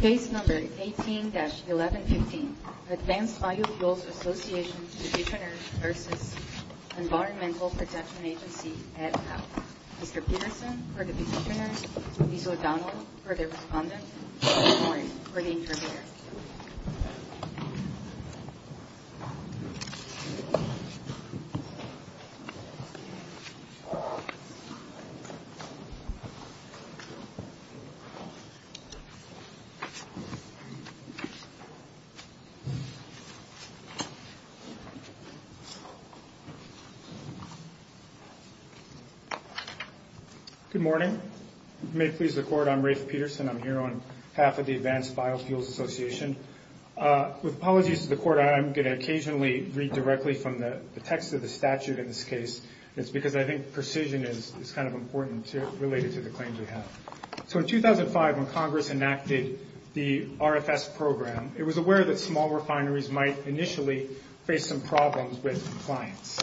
Case No. 18-1115, Advanced Biofuels Association Divisioners v. Environmental Protection Agency, EPA Mr. Peterson for the Divisioner, Ms. O'Donnell for the Respondent, and Ms. Morris for the Interpreter Good morning. May it please the Court, I'm Rafe Peterson. I'm here on behalf of the Advanced Biofuels Association. With apologies to the Court, I'm going to occasionally read directly from the text of the statute in this case. It's because I think precision is kind of important related to the claims we have. So in 2005, when Congress enacted the RFS program, it was aware that small refineries might initially face some problems with compliance.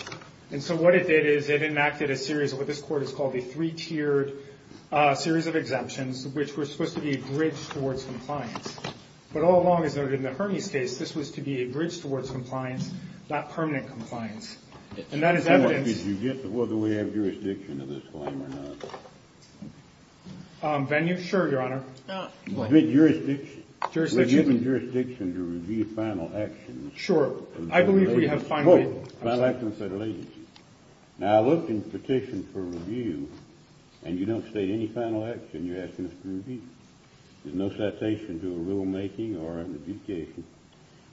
And so what it did is it enacted a series of what this Court has called a three-tiered series of exemptions, which were supposed to be a bridge towards compliance. But all along, as noted in the Hermes case, this was to be a bridge towards compliance, not permanent compliance. And that is evidence Did you get to whether we have jurisdiction of this claim or not? Venue? Sure, Your Honor. Jurisdiction? Jurisdiction. We're given jurisdiction to review final actions. Sure. I believe we have finally Final actions have been released. Now, I looked in the petition for review, and you don't state any final action you're asking us to review. There's no citation to a rulemaking or an adjudication.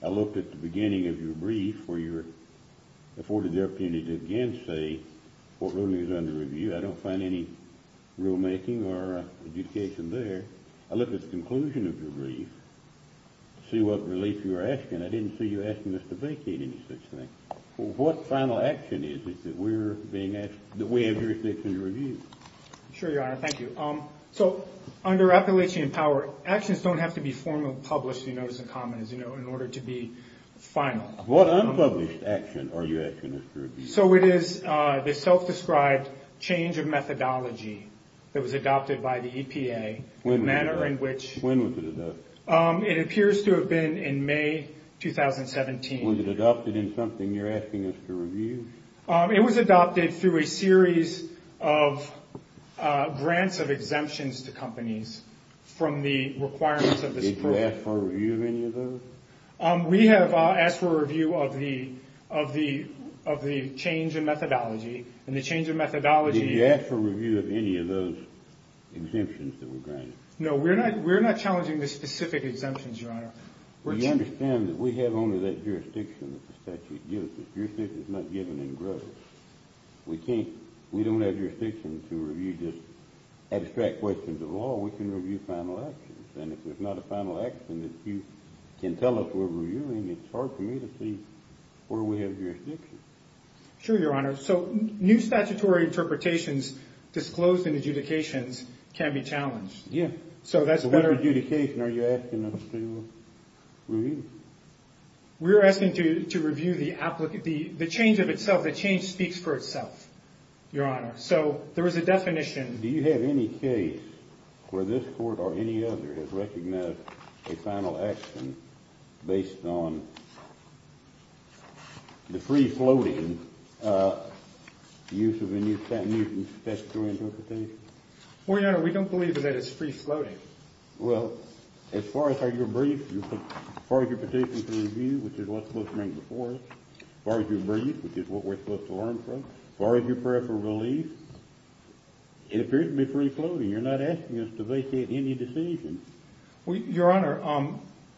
I looked at the beginning of your brief where you afforded the opportunity to again say what ruling is under review. I don't find any rulemaking or adjudication there. I looked at the conclusion of your brief to see what relief you were asking. I didn't see you asking us to vacate any such thing. What final action is it that we have jurisdiction to review? Sure, Your Honor. Thank you. So, under Appalachian Power, actions don't have to be formally published, you notice, in common, as you know, in order to be final. What unpublished action are you asking us to review? So, it is the self-described change of methodology that was adopted by the EPA. When was it adopted? The manner in which When was it adopted? It appears to have been in May 2017. Was it adopted in something you're asking us to review? It was adopted through a series of grants of exemptions to companies from the requirements of this program. Did you ask for a review of any of those? We have asked for a review of the change in methodology, and the change in methodology Did you ask for a review of any of those exemptions that were granted? No, we're not challenging the specific exemptions, Your Honor. Well, you understand that we have only that jurisdiction that the statute gives us. Jurisdiction is not given in gross. We don't have jurisdiction to review just abstract questions of law. We can review final actions. And if there's not a final action that you can tell us we're reviewing, it's hard for me to see where we have jurisdiction. Sure, Your Honor. So, new statutory interpretations disclosed in adjudications can be challenged. Yeah. In adjudication, are you asking us to review? We're asking to review the change of itself. The change speaks for itself, Your Honor. So, there is a definition. Do you have any case where this court or any other has recognized a final action based on the free-floating use of a new statutory interpretation? Well, Your Honor, we don't believe that it's free-floating. Well, as far as your brief, as far as your petition to review, which is what's supposed to come before it, as far as your brief, which is what we're supposed to learn from, as far as your prayer for relief, it appears to be free-floating. You're not asking us to vacate any decision. Your Honor,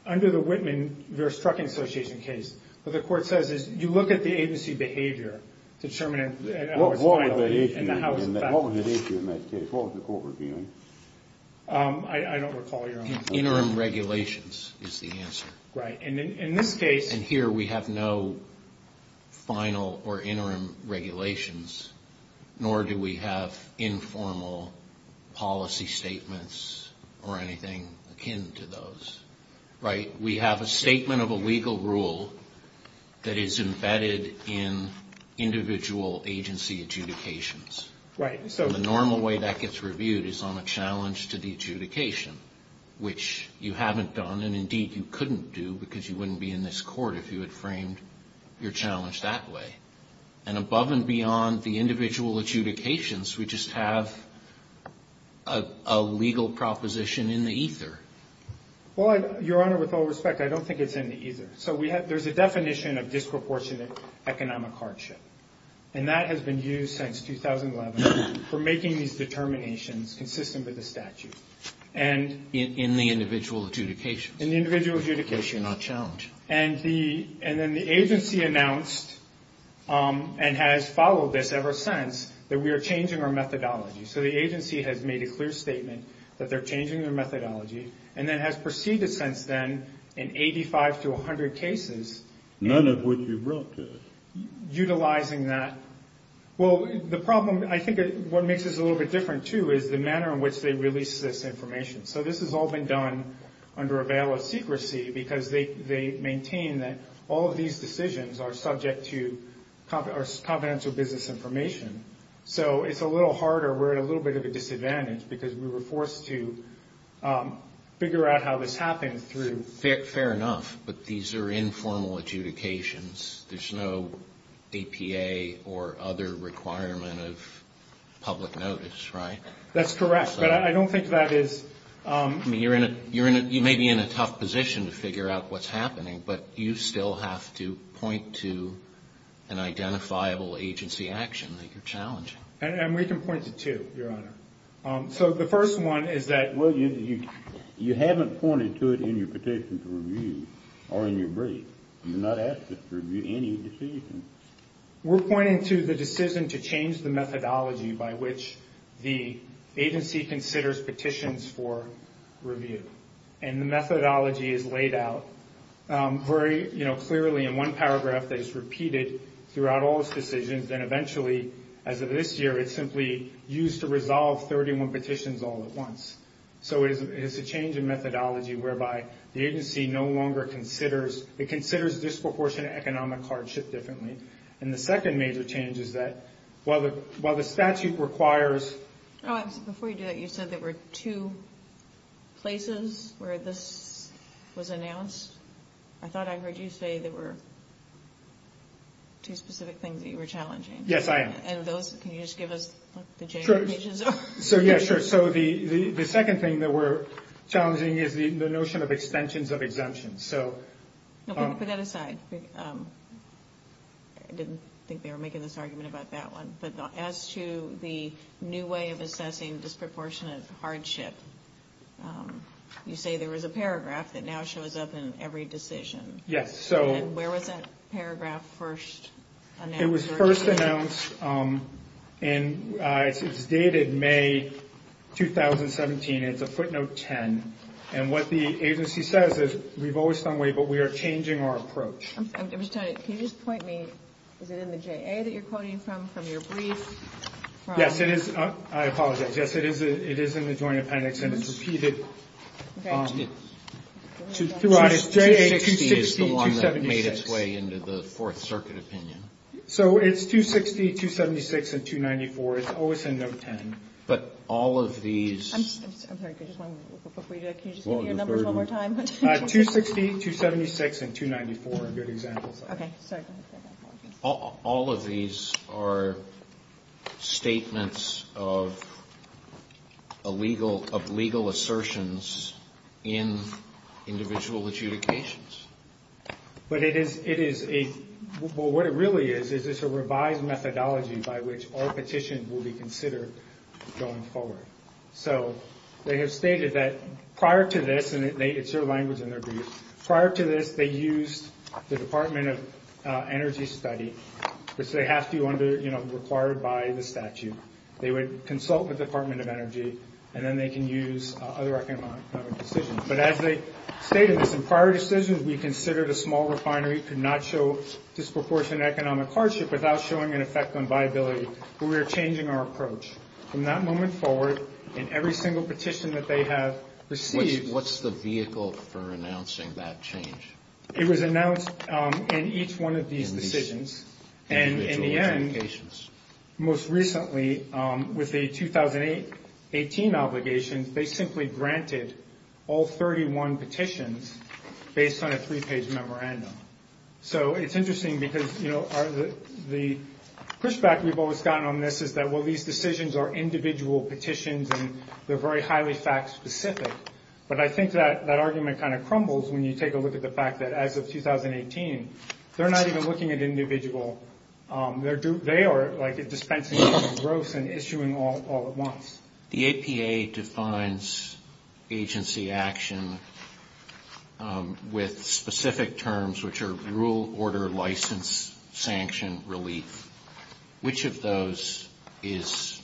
under the Whitman v. Trucking Association case, what the court says is you look at the agency behavior to determine how it's violated. What was at issue in that case? What was the court reviewing? I don't recall, Your Honor. Interim regulations is the answer. Right. And in this case. And here we have no final or interim regulations, nor do we have informal policy statements or anything akin to those. Right? We have a statement of a legal rule that is embedded in individual agency adjudications. Right. And the normal way that gets reviewed is on a challenge to the adjudication, which you haven't done, and indeed you couldn't do because you wouldn't be in this court if you had framed your challenge that way. And above and beyond the individual adjudications, we just have a legal proposition in the ether. Well, Your Honor, with all respect, I don't think it's in the ether. So there's a definition of disproportionate economic hardship, and that has been used since 2011 for making these determinations consistent with the statute. In the individual adjudications. In the individual adjudications. Which are not challenged. And then the agency announced and has followed this ever since that we are changing our methodology. So the agency has made a clear statement that they're changing their methodology and then has proceeded since then in 85 to 100 cases. None of which you brought to us. Utilizing that. Well, the problem, I think what makes this a little bit different, too, is the manner in which they release this information. So this has all been done under a veil of secrecy because they maintain that all of these decisions are subject to confidential business information. So it's a little harder. We're at a little bit of a disadvantage because we were forced to figure out how this happened through. Fair enough. But these are informal adjudications. There's no APA or other requirement of public notice, right? That's correct. But I don't think that is. You may be in a tough position to figure out what's happening, but you still have to point to an identifiable agency action that you're challenging. And we can point to two, Your Honor. So the first one is that. Well, you haven't pointed to it in your petition to review or in your brief. You did not ask us to review any decision. We're pointing to the decision to change the methodology by which the agency considers petitions for review. And the methodology is laid out very clearly in one paragraph that is repeated throughout all those decisions. And eventually, as of this year, it's simply used to resolve 31 petitions all at once. So it's a change in methodology whereby the agency no longer considers. It considers disproportionate economic hardship differently. And the second major change is that while the statute requires. Before you do that, you said there were two places where this was announced. I thought I heard you say there were. Two specific things that you were challenging. Yes, I am. And those can you just give us the. So, yeah, sure. So the second thing that we're challenging is the notion of extensions of exemptions. So put that aside. I didn't think they were making this argument about that one. But as to the new way of assessing disproportionate hardship, you say there was a paragraph that now shows up in every decision. Yes. So where was that paragraph first? It was first announced and it's dated May 2017. It's a footnote 10. And what the agency says is we've always done way, but we are changing our approach. Can you just point me? Is it in the J.A. that you're quoting from, from your brief? Yes, it is. I apologize. Yes, it is. It is in the Joint Appendix and it's repeated. Throughout its J.A., 260, 276. It's the one that made its way into the Fourth Circuit opinion. So it's 260, 276, and 294. It's always in note 10. But all of these. I'm sorry. Can you just give me your numbers one more time? 260, 276, and 294. Those are good examples. Okay. Sorry. All of these are statements of illegal, of legal assertions in individual adjudications. But it is, it is a, well, what it really is, is it's a revised methodology by which our petition will be considered going forward. So, they have stated that prior to this, and it's their language in their brief, prior to this, they used the Department of Energy study, which they have to under, you know, required by the statute. They would consult with the Department of Energy, and then they can use other economic decisions. But as they stated this, in prior decisions, we considered a small refinery could not show disproportionate economic hardship without showing an effect on viability. We are changing our approach. From that moment forward, in every single petition that they have received. What's the vehicle for announcing that change? It was announced in each one of these decisions, and in the end, most recently, with the 2018 obligation, they simply granted all 31 petitions based on a three-page memorandum. So, it's interesting because, you know, the pushback we've always gotten on this is that, well, these decisions are individual petitions, and they're very highly fact-specific. But I think that that argument kind of crumbles when you take a look at the fact that, as of 2018, they're not even looking at individual. They are, like, dispensing gross and issuing all at once. The APA defines agency action with specific terms, which are rule, order, license, sanction, relief. Which of those is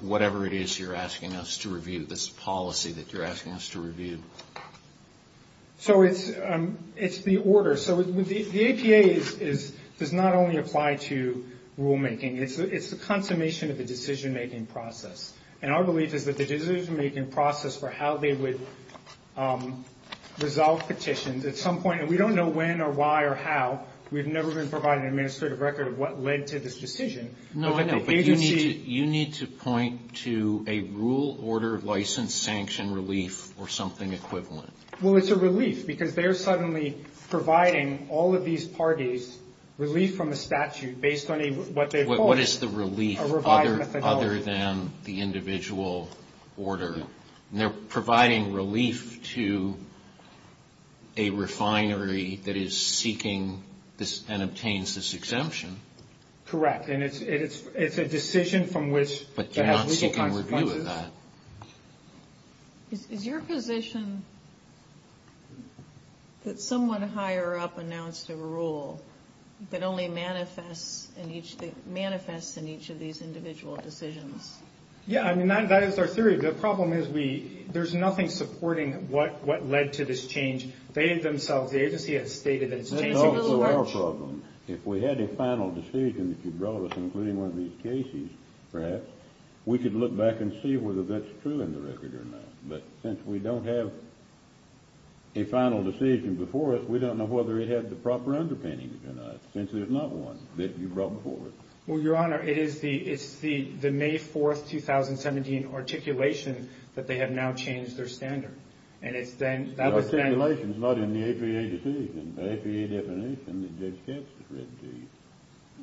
whatever it is you're asking us to review, this policy that you're asking us to review? So, it's the order. So, the APA does not only apply to rulemaking. It's the consummation of the decision-making process. And our belief is that the decision-making process for how they would resolve petitions at some point, and we don't know when or why or how. We've never been provided an administrative record of what led to this decision. But the agency... No, I know, but you need to point to a rule, order, license, sanction, relief, or something equivalent. Well, it's a relief, because they're suddenly providing all of these parties relief from a statute based on what they've called a revised methodology. What is the relief other than the individual order? They're providing relief to a refinery that is seeking and obtains this exemption. Correct. And it's a decision from which... But you're not seeking review of that. Is your position that someone higher up announced a rule that only manifests in each of these individual decisions? Yeah, I mean, that is our theory. The problem is we... There's nothing supporting what led to this change. They themselves... The agency has stated that it's changing... That's also our problem. If we had a final decision that you brought us, including one of these cases, perhaps, we could look back and see whether that's true in the record or not. But since we don't have a final decision before us, we don't know whether it had the proper underpinnings or not, since there's not one that you brought before us. Well, Your Honor, it is the May 4th, 2017, articulation that they have now changed their standard. And it's then... The articulation is not in the APA decision. The APA definition that Judge Katz has written to you.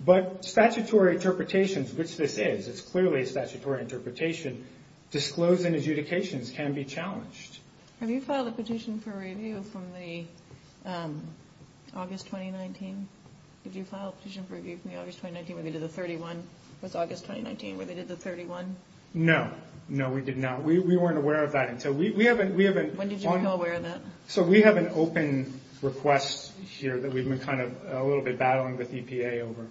But statutory interpretations, which this is, it's clearly a statutory interpretation, disclosing adjudications can be challenged. Have you filed a petition for review from the August 2019? Did you file a petition for review from the August 2019 where they did the 31? Was August 2019 where they did the 31? No. No, we did not. We weren't aware of that until... We haven't... When did you become aware of that? So, we have an open request here that we've been kind of a little bit battling with EPA over.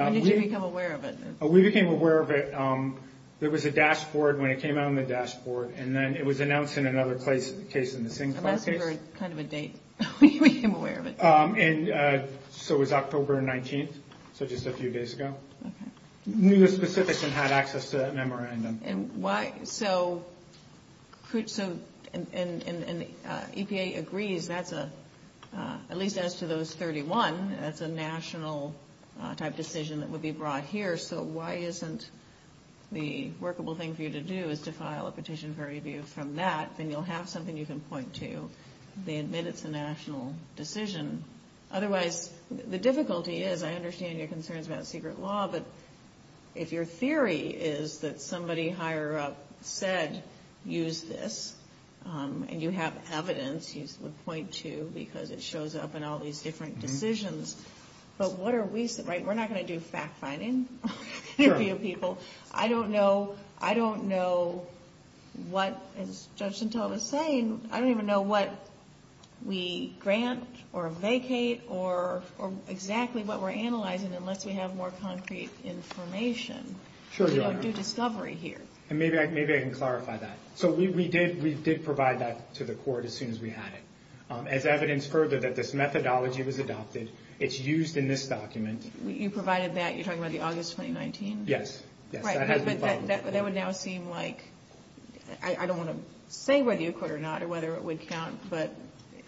When did you become aware of it? We became aware of it... There was a dashboard when it came out on the dashboard. And then it was announced in another case in the Singapore case. I'm asking for kind of a date when you became aware of it. So, it was October 19th. So, just a few days ago. Okay. Knew the specifics and had access to that memorandum. And why... So, EPA agrees that's a... At least as to those 31, that's a national type decision that would be brought here. So, why isn't the workable thing for you to do is to file a petition for review from that? Then you'll have something you can point to. They admit it's a national decision. Otherwise, the difficulty is I understand your concerns about secret law. But if your theory is that somebody higher up said use this and you have evidence, you would point to because it shows up in all these different decisions. But what are we... Right? We're not going to do fact-finding for you people. I don't know. I don't know what, as Judge Santella was saying, I don't even know what we grant or vacate or exactly what we're analyzing unless we have more concrete information. Sure, Your Honor. We don't do discovery here. And maybe I can clarify that. So, we did provide that to the court as soon as we had it. As evidence further that this methodology was adopted. It's used in this document. You provided that. You're talking about the August 2019? Yes. Right. But that would now seem like... I don't want to say whether you could or not or whether it would count, but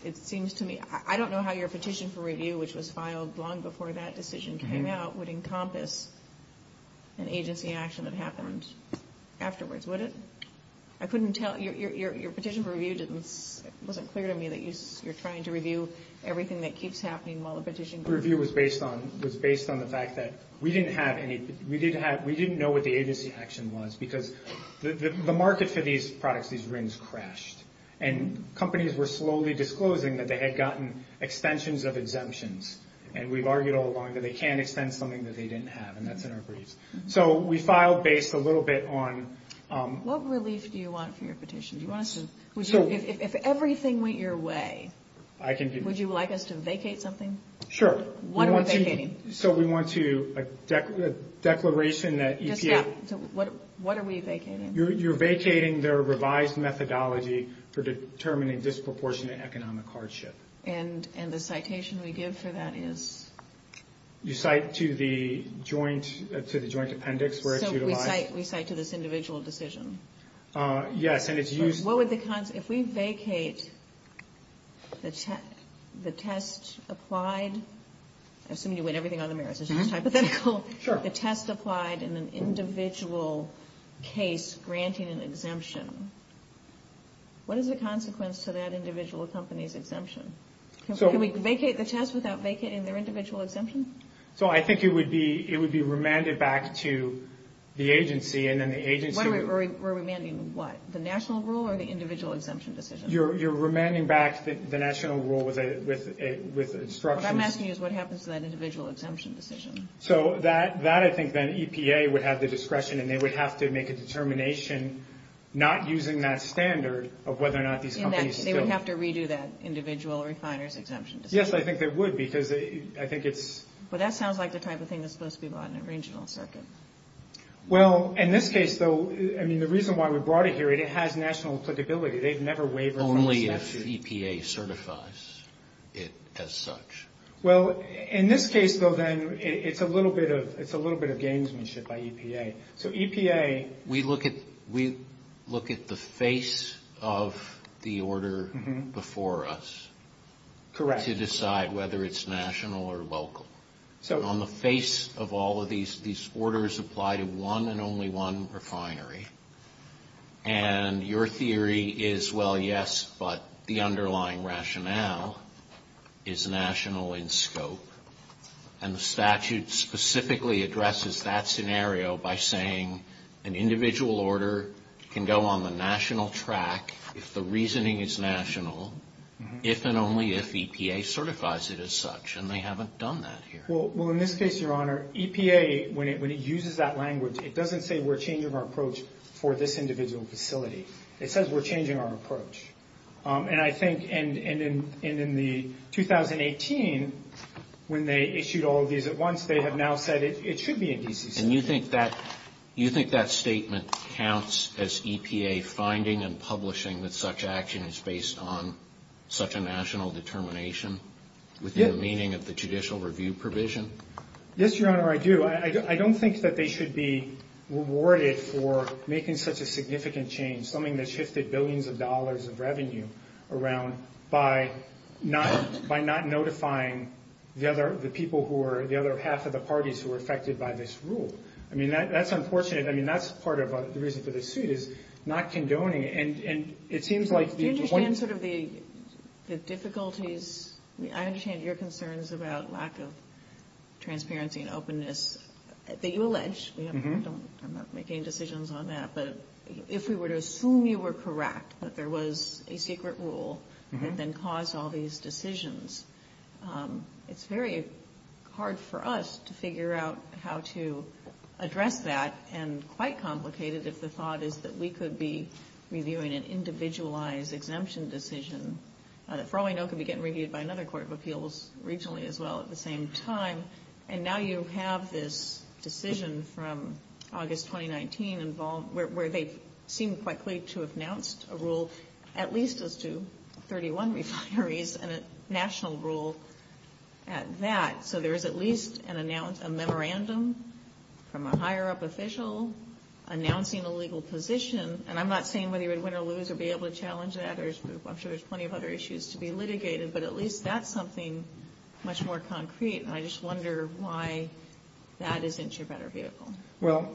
it seems to me... I don't know how your petition for review, which was filed long before that decision came out, would encompass an agency action that happened afterwards, would it? I couldn't tell... Your petition for review didn't... It wasn't clear to me that you're trying to review everything that keeps happening while the petition... The review was based on the fact that we didn't have any... We didn't know what the agency action was because the market for these products, these rings, crashed. And companies were slowly disclosing that they had gotten extensions of exemptions. And we've argued all along that they can't extend something that they didn't have. And that's in our briefs. So, we filed based a little bit on... What relief do you want for your petition? Do you want us to... If everything went your way, would you like us to vacate something? Sure. What are we vacating? So, we want to... A declaration that EPA... What are we vacating? You're vacating their revised methodology for determining disproportionate economic hardship. And the citation we give for that is? You cite to the joint appendix where it's utilized. So, we cite to this individual decision? Yes, and it's used... What would the... If we vacate the test applied... I assume you went everything on the merits. It's just hypothetical. Sure. If we vacate the test applied in an individual case granting an exemption, what is the consequence to that individual company's exemption? Can we vacate the test without vacating their individual exemption? So, I think it would be remanded back to the agency, and then the agency... What are we remanding? What? The national rule or the individual exemption decision? You're remanding back the national rule with instructions. What I'm asking is what happens to that individual exemption decision? So, that I think then EPA would have the discretion, and they would have to make a determination not using that standard of whether or not these companies can still... They would have to redo that individual refiners exemption decision? Yes, I think they would because I think it's... Well, that sounds like the type of thing that's supposed to be bought in a regional circuit. Well, in this case, though, I mean, the reason why we brought it here, it has national applicability. They've never wavered from the statute. Only if EPA certifies it as such. Well, in this case, though, then, it's a little bit of gamesmanship by EPA. So, EPA... We look at the face of the order before us to decide whether it's national or local. So... On the face of all of these, these orders apply to one and only one refinery, and your theory is, well, yes, but the underlying rationale is national in scope. And the statute specifically addresses that scenario by saying, an individual order can go on the national track if the reasoning is national, if and only if EPA certifies it as such, and they haven't done that here. Well, in this case, Your Honor, EPA, when it uses that language, it doesn't say we're changing our approach for this individual facility. It says we're changing our approach. And I think in the 2018, when they issued all of these at once, they have now said it should be in DCC. And you think that statement counts as EPA finding and publishing that such action is based on such a national determination within the meaning of the judicial review provision? Yes, Your Honor, I do. I don't think that they should be rewarded for making such a significant change, something that shifted billions of dollars of revenue around, by not notifying the people who are the other half of the parties who are affected by this rule. I mean, that's unfortunate. I mean, that's part of the reason for this suit, is not condoning it. And it seems like... Do you understand sort of the difficulties? I understand your concerns about lack of transparency and openness that you allege. I'm not making decisions on that. But if we were to assume you were correct that there was a secret rule that then caused all these decisions, it's very hard for us to figure out how to address that, and quite complicated if the thought is that we could be reviewing an individualized exemption decision. For all I know, it could be getting reviewed by another court of appeals regionally as well at the same time. And now you have this decision from August 2019 where they seem quite clear to have announced a rule, at least as to 31 refineries, and a national rule at that. So there is at least a memorandum from a higher-up official announcing a legal position. And I'm not saying whether you would win or lose or be able to challenge that. I'm sure there's plenty of other issues to be litigated. But at least that's something much more concrete. And I just wonder why that isn't your better vehicle. Well...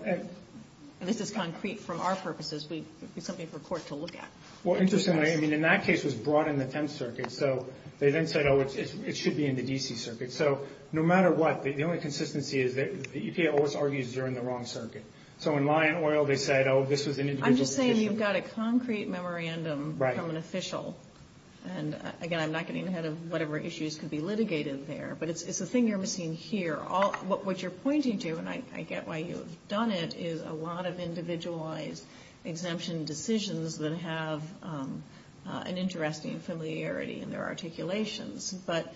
This is concrete from our purposes. It's something for court to look at. Well, interestingly, I mean, in that case, it was brought in the 10th Circuit. So they then said, oh, it should be in the D.C. Circuit. So no matter what, the only consistency is that the EPA always argues you're in the wrong circuit. So in Lyon Oil, they said, oh, this was an individual position. I'm just saying you've got a concrete memorandum from an official. And, again, I'm not getting ahead of whatever issues could be litigated there. But it's the thing you're missing here. What you're pointing to, and I get why you've done it, is a lot of individualized exemption decisions that have an interesting familiarity in their articulations. But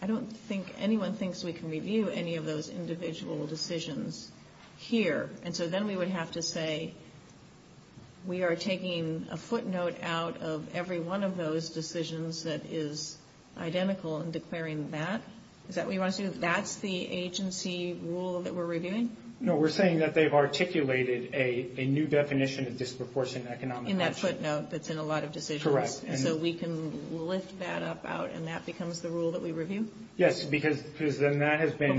I don't think anyone thinks we can review any of those individual decisions here. And so then we would have to say we are taking a footnote out of every one of those decisions that is identical and declaring that. Is that what you want to do? That's the agency rule that we're reviewing? No, we're saying that they've articulated a new definition of disproportionate economic action. In that footnote that's in a lot of decisions. Correct. And so we can lift that up out, and that becomes the rule that we review? Yes, because then that has been...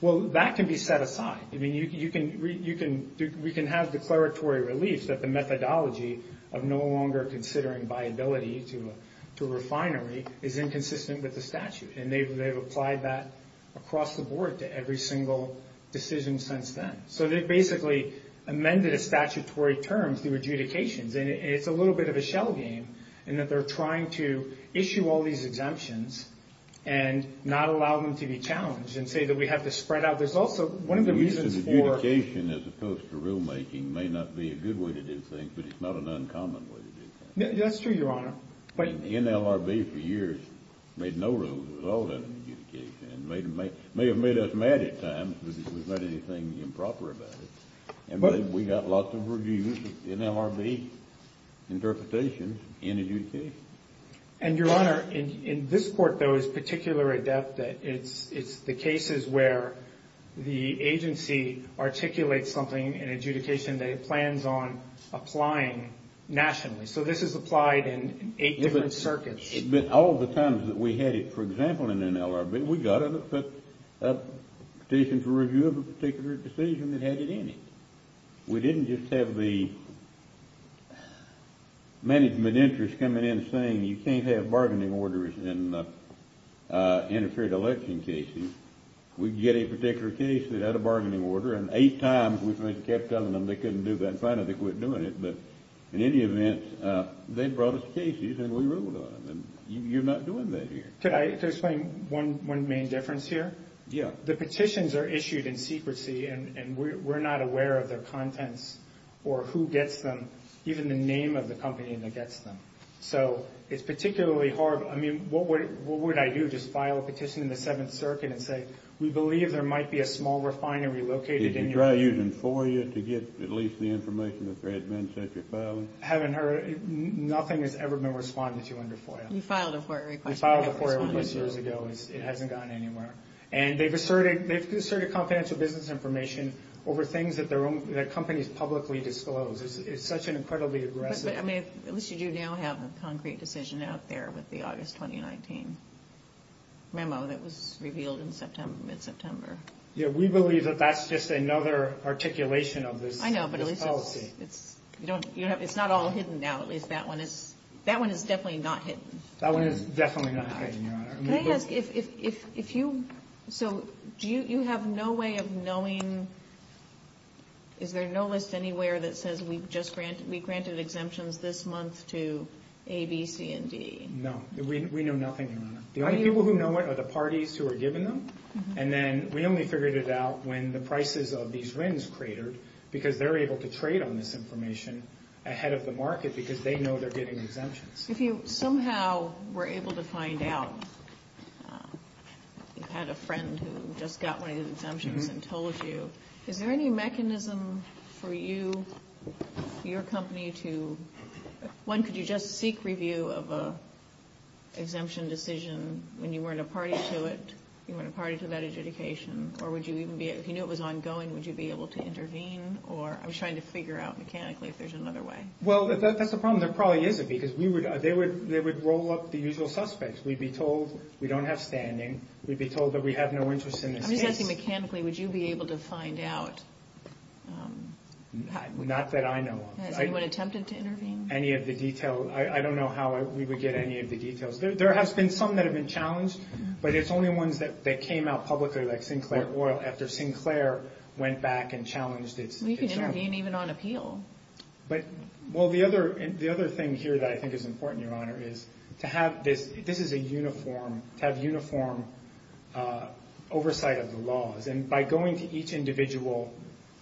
Well, that can be set aside. I mean, we can have declaratory relief that the methodology of no longer considering viability to a refinery is inconsistent with the statute. And they've applied that across the board to every single decision since then. So they've basically amended the statutory terms, the adjudications, and it's a little bit of a shell game in that they're trying to issue all these exemptions and not allow them to be challenged and say that we have to spread out. There's also one of the reasons for... Adjudication as opposed to rulemaking may not be a good way to do things, but it's not an uncommon way to do things. That's true, Your Honor. NLRB for years made no rules with all that adjudication. It may have made us mad at times, but it was not anything improper about it. And we got lots of reviews of NLRB interpretations in adjudication. And, Your Honor, in this court, there was particular adept that it's the cases where the agency articulates something in adjudication that it plans on applying nationally. So this is applied in eight different circuits. All the times that we had it, for example, in NLRB, we got a petition for review of a particular decision that had it in it. We didn't just have the management interest coming in saying, you can't have bargaining orders in interfered election cases. We'd get a particular case that had a bargaining order, and eight times we kept telling them they couldn't do that and finally they quit doing it. But in any event, they brought us cases and we ruled on them. You're not doing that here. Could I explain one main difference here? Yeah. The petitions are issued in secrecy, and we're not aware of their contents or who gets them, even the name of the company that gets them. So it's particularly hard. I mean, what would I do, just file a petition in the Seventh Circuit and say, we believe there might be a small refinery located in your region? Did you try using FOIA to get at least the information that there had been since your filing? Haven't heard. Nothing has ever been responded to under FOIA. You filed a FOIA request. We filed a FOIA request years ago. It hasn't gone anywhere. And they've asserted confidential business information over things that companies publicly disclose. It's such an incredibly aggressive— But, I mean, at least you do now have a concrete decision out there with the August 2019 memo that was revealed in mid-September. Yeah, we believe that that's just another articulation of this policy. I know, but at least it's not all hidden now. At least that one is definitely not hidden. That one is definitely not hidden, Your Honor. Can I ask, if you—so, do you have no way of knowing— is there no list anywhere that says we granted exemptions this month to A, B, C, and D? No. We know nothing, Your Honor. The only people who know it are the parties who are giving them. And then we only figured it out when the prices of these RINs cratered, because they're able to trade on this information ahead of the market because they know they're getting exemptions. If you somehow were able to find out— you had a friend who just got one of these exemptions and told you— is there any mechanism for you, your company, to— one, could you just seek review of an exemption decision when you weren't a party to it, you weren't a party to that adjudication? Or would you even be—if you knew it was ongoing, would you be able to intervene? Or—I'm trying to figure out, mechanically, if there's another way. Well, that's the problem. There probably isn't, because we would— they would roll up the usual suspects. We'd be told we don't have standing. We'd be told that we have no interest in this case. I'm just asking, mechanically, would you be able to find out— Not that I know of. Has anyone attempted to intervene? Any of the detail—I don't know how we would get any of the details. There has been some that have been challenged, but it's only ones that came out publicly, like Sinclair Oil, after Sinclair went back and challenged its— Well, you can intervene even on appeal. But—well, the other thing here that I think is important, Your Honor, is to have this—this is a uniform—to have uniform oversight of the laws. And by going to each individual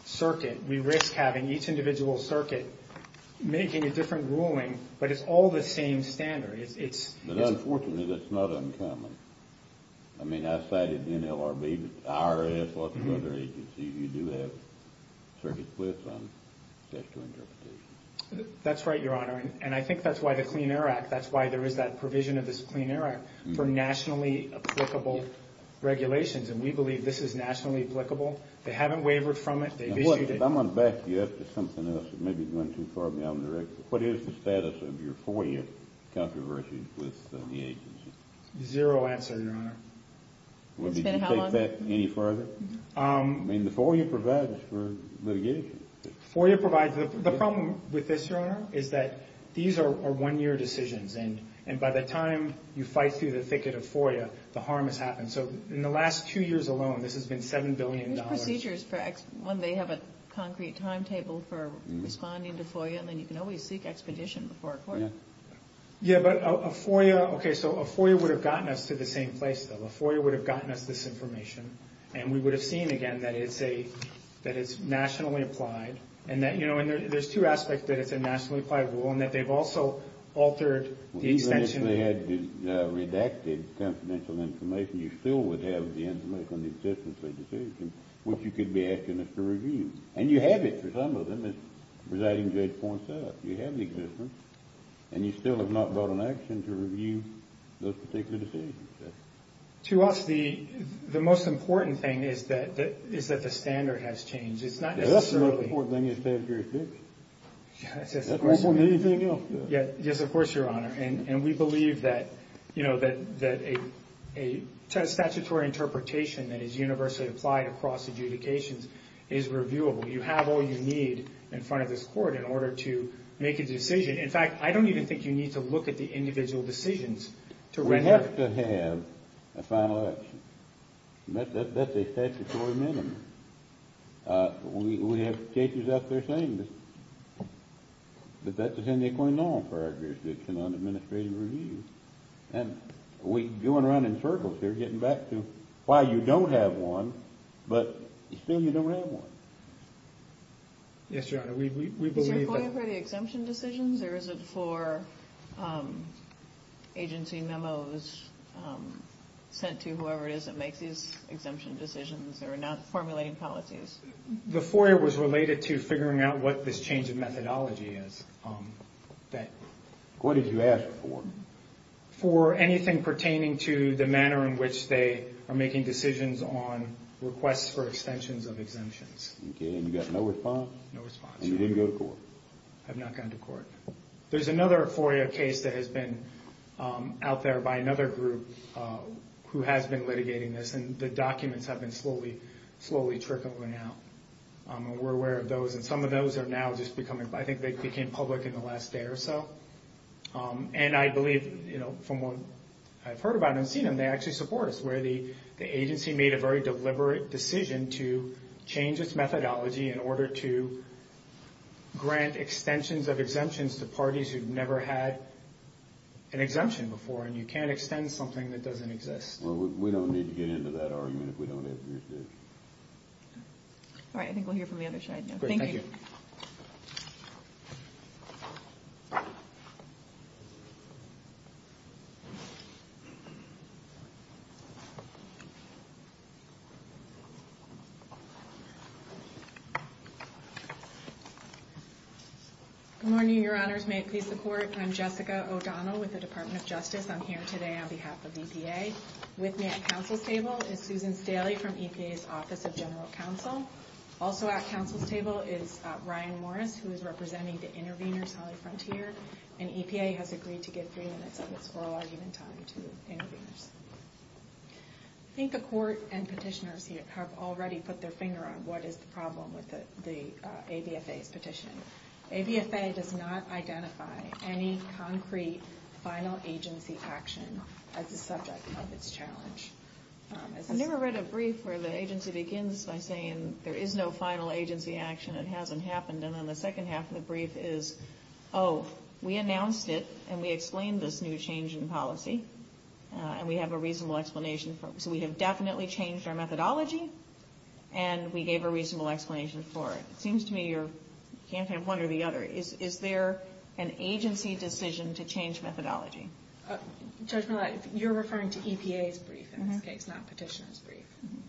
circuit, we risk having each individual circuit making a different ruling, but it's all the same standard. It's— But, unfortunately, that's not uncommon. I mean, I cited NLRB, but IRS, lots of other agencies, you do have circuit blips on sexual interpretation. That's right, Your Honor. And I think that's why the Clean Air Act— that's why there is that provision of this Clean Air Act for nationally applicable regulations. And we believe this is nationally applicable. They haven't wavered from it. They've issued it— Well, if I'm going to back you up to something else that may be going too far beyond the record, what is the status of your four-year controversy with the agency? Zero answer, Your Honor. It's been how long? Would you take that any further? I mean, the FOIA provides for litigation. FOIA provides—the problem with this, Your Honor, is that these are one-year decisions, and by the time you fight through the thicket of FOIA, the harm has happened. So in the last two years alone, this has been $7 billion. There's procedures for— one, they have a concrete timetable for responding to FOIA, and then you can always seek expedition before FOIA. Yeah, but a FOIA— Okay, so a FOIA would have gotten us to the same place, though. A FOIA would have gotten us this information, and we would have seen, again, that it's nationally applied, and there's two aspects that it's a nationally applied rule in that they've also altered the extension— Even if they had redacted confidential information, you still would have the information on the existence of the decision, which you could be asking us to review. And you have it for some of them, as Presiding Judge points out. You have the existence, and you still have not brought an action to review those particular decisions. To us, the most important thing is that the standard has changed. It's not necessarily— That's the most important thing in Statutory 6. That's more important than anything else. Yes, of course, Your Honor. And we believe that a statutory interpretation that is universally applied across adjudications is reviewable. You have all you need in front of this Court in order to make a decision. In fact, I don't even think you need to look at the individual decisions to render— We have to have a final action. That's a statutory minimum. We have cases out there saying this, but that doesn't equate at all for our jurisdiction on administrative review. And we're going around in circles here, getting back to why you don't have one, but still you don't have one. Yes, Your Honor, we believe that— Is there a FOIA for the exemption decisions, or is it for agency memos sent to whoever it is that makes these exemption decisions that are not formulating policies? The FOIA was related to figuring out what this change in methodology is. What did you ask for? For anything pertaining to the manner in which they are making decisions on requests for extensions of exemptions. Okay, and you got no response? No response, Your Honor. And you didn't go to court? I have not gone to court. There's another FOIA case that has been out there by another group who has been litigating this, and the documents have been slowly trickling out. We're aware of those, and some of those are now just becoming— I think they became public in the last day or so. And I believe, from what I've heard about and seen them, they actually support us, where the agency made a very deliberate decision to change its methodology in order to grant extensions of exemptions to parties who've never had an exemption before, and you can't extend something that doesn't exist. Well, we don't need to get into that argument if we don't have to. All right, I think we'll hear from the other side now. Great, thank you. Thank you. Good morning, Your Honors. May it please the Court, I'm Jessica O'Donnell with the Department of Justice. I'm here today on behalf of EPA. With me at counsel's table is Susan Staley from EPA's Office of General Counsel. Also at counsel's table is Ryan Morris, who is representing the Interveners Holly Frontier, and EPA has agreed to give three minutes of its oral argument time to Interveners. I think the Court and petitioners have already put their finger on what is the problem with the ABFA's petition. ABFA does not identify any concrete final agency action as the subject of its challenge. I've never read a brief where the agency begins by saying there is no final agency action, it hasn't happened, and then the second half of the brief is, oh, we announced it, and we explained this new change in policy, and we have a reasonable explanation for it. So we have definitely changed our methodology, and we gave a reasonable explanation for it. It seems to me you can't have one or the other. Is there an agency decision to change methodology? Judge Millett, you're referring to EPA's brief in this case, not petitioner's brief,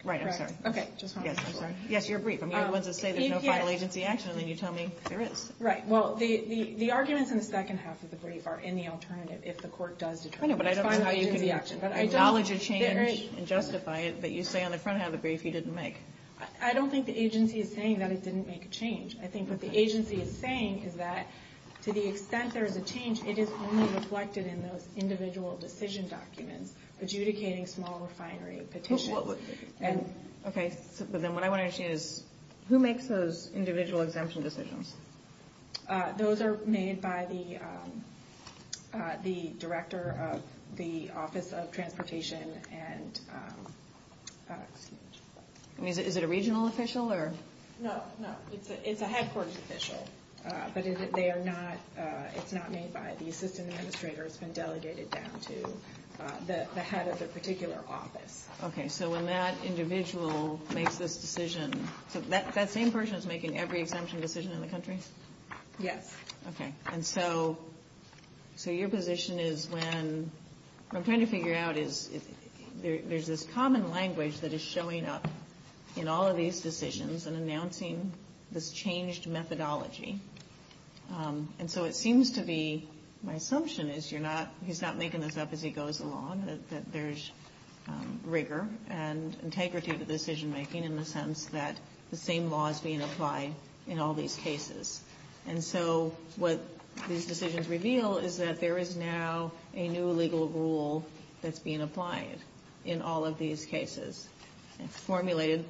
correct? Right, I'm sorry. Okay, just wanted to make sure. Yes, I'm sorry. Yes, your brief. I'm the only one to say there's no final agency action, and then you tell me there is. Right, well, the arguments in the second half of the brief are in the alternative if the Court does determine there is no final agency action. I don't know how you can acknowledge a change and justify it, but you say on the front half of the brief you didn't make. I don't think the agency is saying that it didn't make a change. I think what the agency is saying is that to the extent there is a change, it is only reflected in those individual decision documents, adjudicating small refinery petitions. Okay, but then what I want to understand is, who makes those individual exemption decisions? Those are made by the Director of the Office of Transportation. Is it a regional official? No, it's a headquarters official, but it's not made by the assistant administrator. It's been delegated down to the head of the particular office. Okay, so when that individual makes this decision, so that same person is making every exemption decision in the country? Yes. Okay, and so your position is when, what I'm trying to figure out is there's this common language that is showing up in all of these decisions and announcing this changed methodology, and so it seems to be my assumption is you're not, he's not making this up as he goes along, that there's rigor and integrity to decision making in the sense that the same law is being applied in all these cases. And so what these decisions reveal is that there is now a new legal rule that's being applied in all of these cases. It's formulated,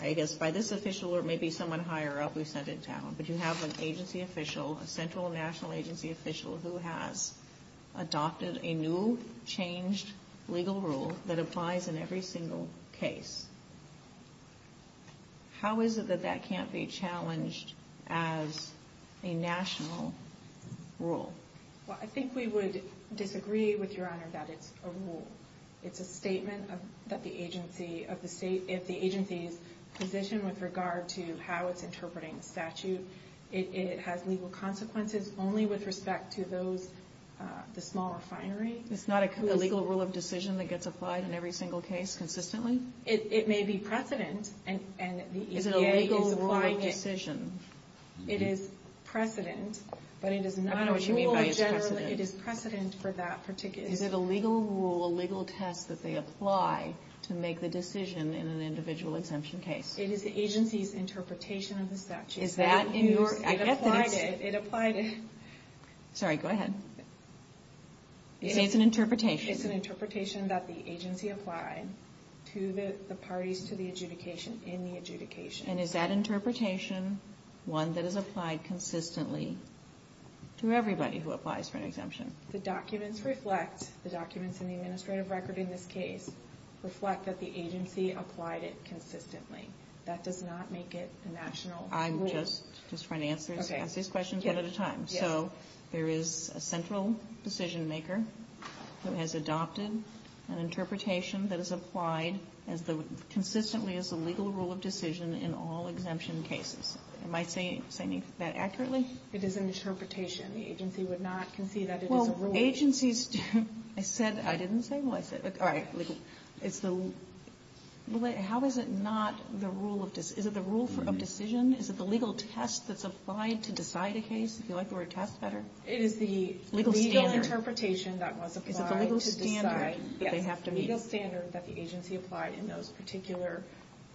I guess, by this official or maybe someone higher up who sent it down, but you have an agency official, a central national agency official who has adopted a new changed legal rule that applies in every single case. How is it that that can't be challenged as a national rule? Well, I think we would disagree with Your Honor that it's a rule. It's a statement that the agency, if the agency's position with regard to how it's interpreting the statute, it has legal consequences only with respect to those, the small refinery. It's not a legal rule of decision that gets applied in every single case consistently? It may be precedent, and the EPA is applying it. Is it a legal rule of decision? It is precedent, but it is not a rule generally. I don't know what you mean by it's precedent. It is precedent for that particular. Is it a legal rule, a legal test that they apply to make the decision in an individual exemption case? It is the agency's interpretation of the statute. Is that in your evidence? It applied it, it applied it. Sorry, go ahead. You say it's an interpretation. It's an interpretation that the agency applied to the parties, to the adjudication, in the adjudication. And is that interpretation one that is applied consistently to everybody who applies for an exemption? The documents reflect, the documents in the administrative record in this case, reflect that the agency applied it consistently. That does not make it a national rule. I'm just trying to answer these questions one at a time. So there is a central decision maker who has adopted an interpretation that is applied as the, consistently as a legal rule of decision in all exemption cases. Am I saying that accurately? It is an interpretation. The agency would not concede that it is a rule. Well, agencies do. I said, I didn't say, well, I said, all right, legal. It's the, how is it not the rule of, is it the rule of decision? Is it the legal test that's applied to decide a case? Do you like the word test better? It is the legal interpretation that was applied to decide. Is it the legal standard that they have to meet? Yes, the legal standard that the agency applied in those particular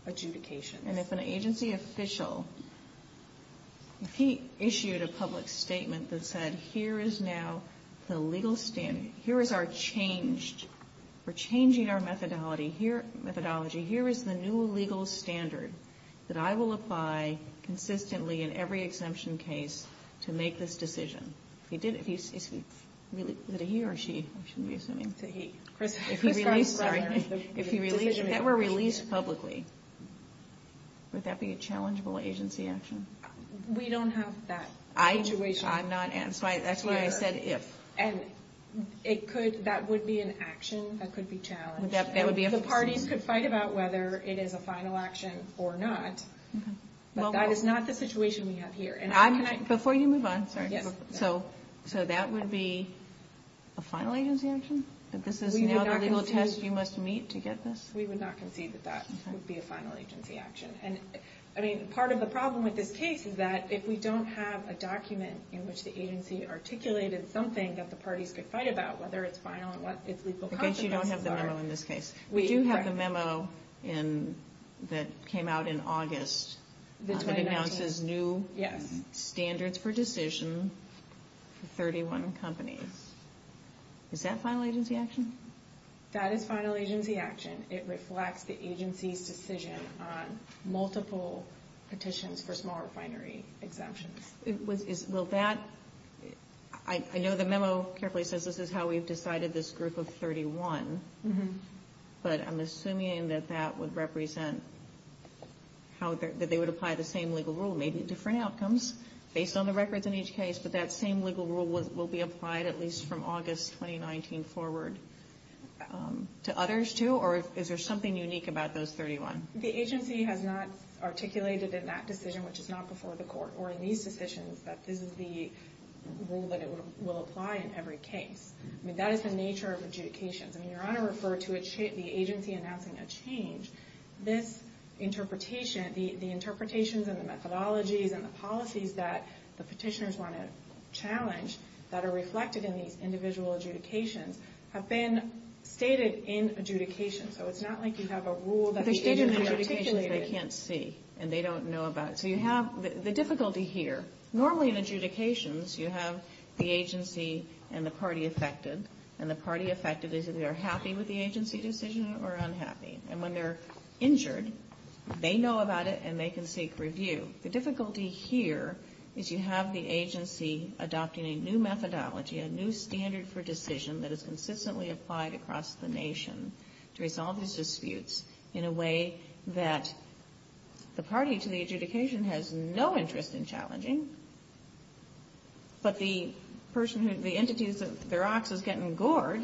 adjudications. And if an agency official, if he issued a public statement that said, here is now the legal standard, here is our changed, we're changing our methodology, here is the new legal standard that I will apply consistently in every exemption case to make this decision. If he did, if he, is it a he or a she? I shouldn't be assuming. It's a he. If he released, sorry. If he released, if that were released publicly, would that be a challengeable agency action? We don't have that situation. I'm not, that's why I said if. That would be a decision. The parties could fight about whether it is a final action or not, but that is not the situation we have here. Before you move on, sorry. So that would be a final agency action? That this is now the legal test you must meet to get this? We would not concede that that would be a final agency action. I mean, part of the problem with this case is that if we don't have a document in which the agency articulated something that the parties could fight about, whether it's final and what its legal consequences are. Okay, so you don't have the memo in this case. We do have the memo that came out in August that announces new standards for decision for 31 companies. Is that final agency action? That is final agency action. It reflects the agency's decision on multiple petitions for small refinery exemptions. I know the memo carefully says this is how we've decided this group of 31, but I'm assuming that that would represent that they would apply the same legal rule, maybe different outcomes based on the records in each case, but that same legal rule will be applied at least from August 2019 forward to others too? Or is there something unique about those 31? The agency has not articulated in that decision, which is not before the court, or in these decisions, that this is the rule that will apply in every case. I mean, that is the nature of adjudications. I mean, Your Honor referred to the agency announcing a change. This interpretation, the interpretations and the methodologies and the policies that the petitioners want to challenge that are reflected in these individual adjudications have been stated in adjudications. So it's not like you have a rule that the agency articulated. They're stated in adjudications they can't see, and they don't know about it. So you have the difficulty here. Normally in adjudications you have the agency and the party affected, and the party affected is either happy with the agency decision or unhappy. And when they're injured, they know about it and they can seek review. The difficulty here is you have the agency adopting a new methodology, a new standard for decision that is consistently applied across the nation to resolve these disputes in a way that the party to the adjudication has no interest in challenging, but the person who the entities of the rocks is getting gored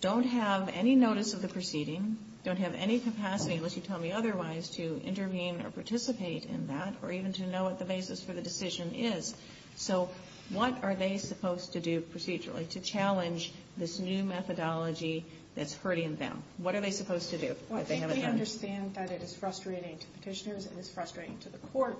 don't have any notice of the proceeding, don't have any capacity, unless you tell me otherwise, to intervene or participate in that or even to know what the basis for the decision is. So what are they supposed to do procedurally to challenge this new methodology that's hurting them? What are they supposed to do? I think they understand that it is frustrating to petitioners. It is frustrating to the court.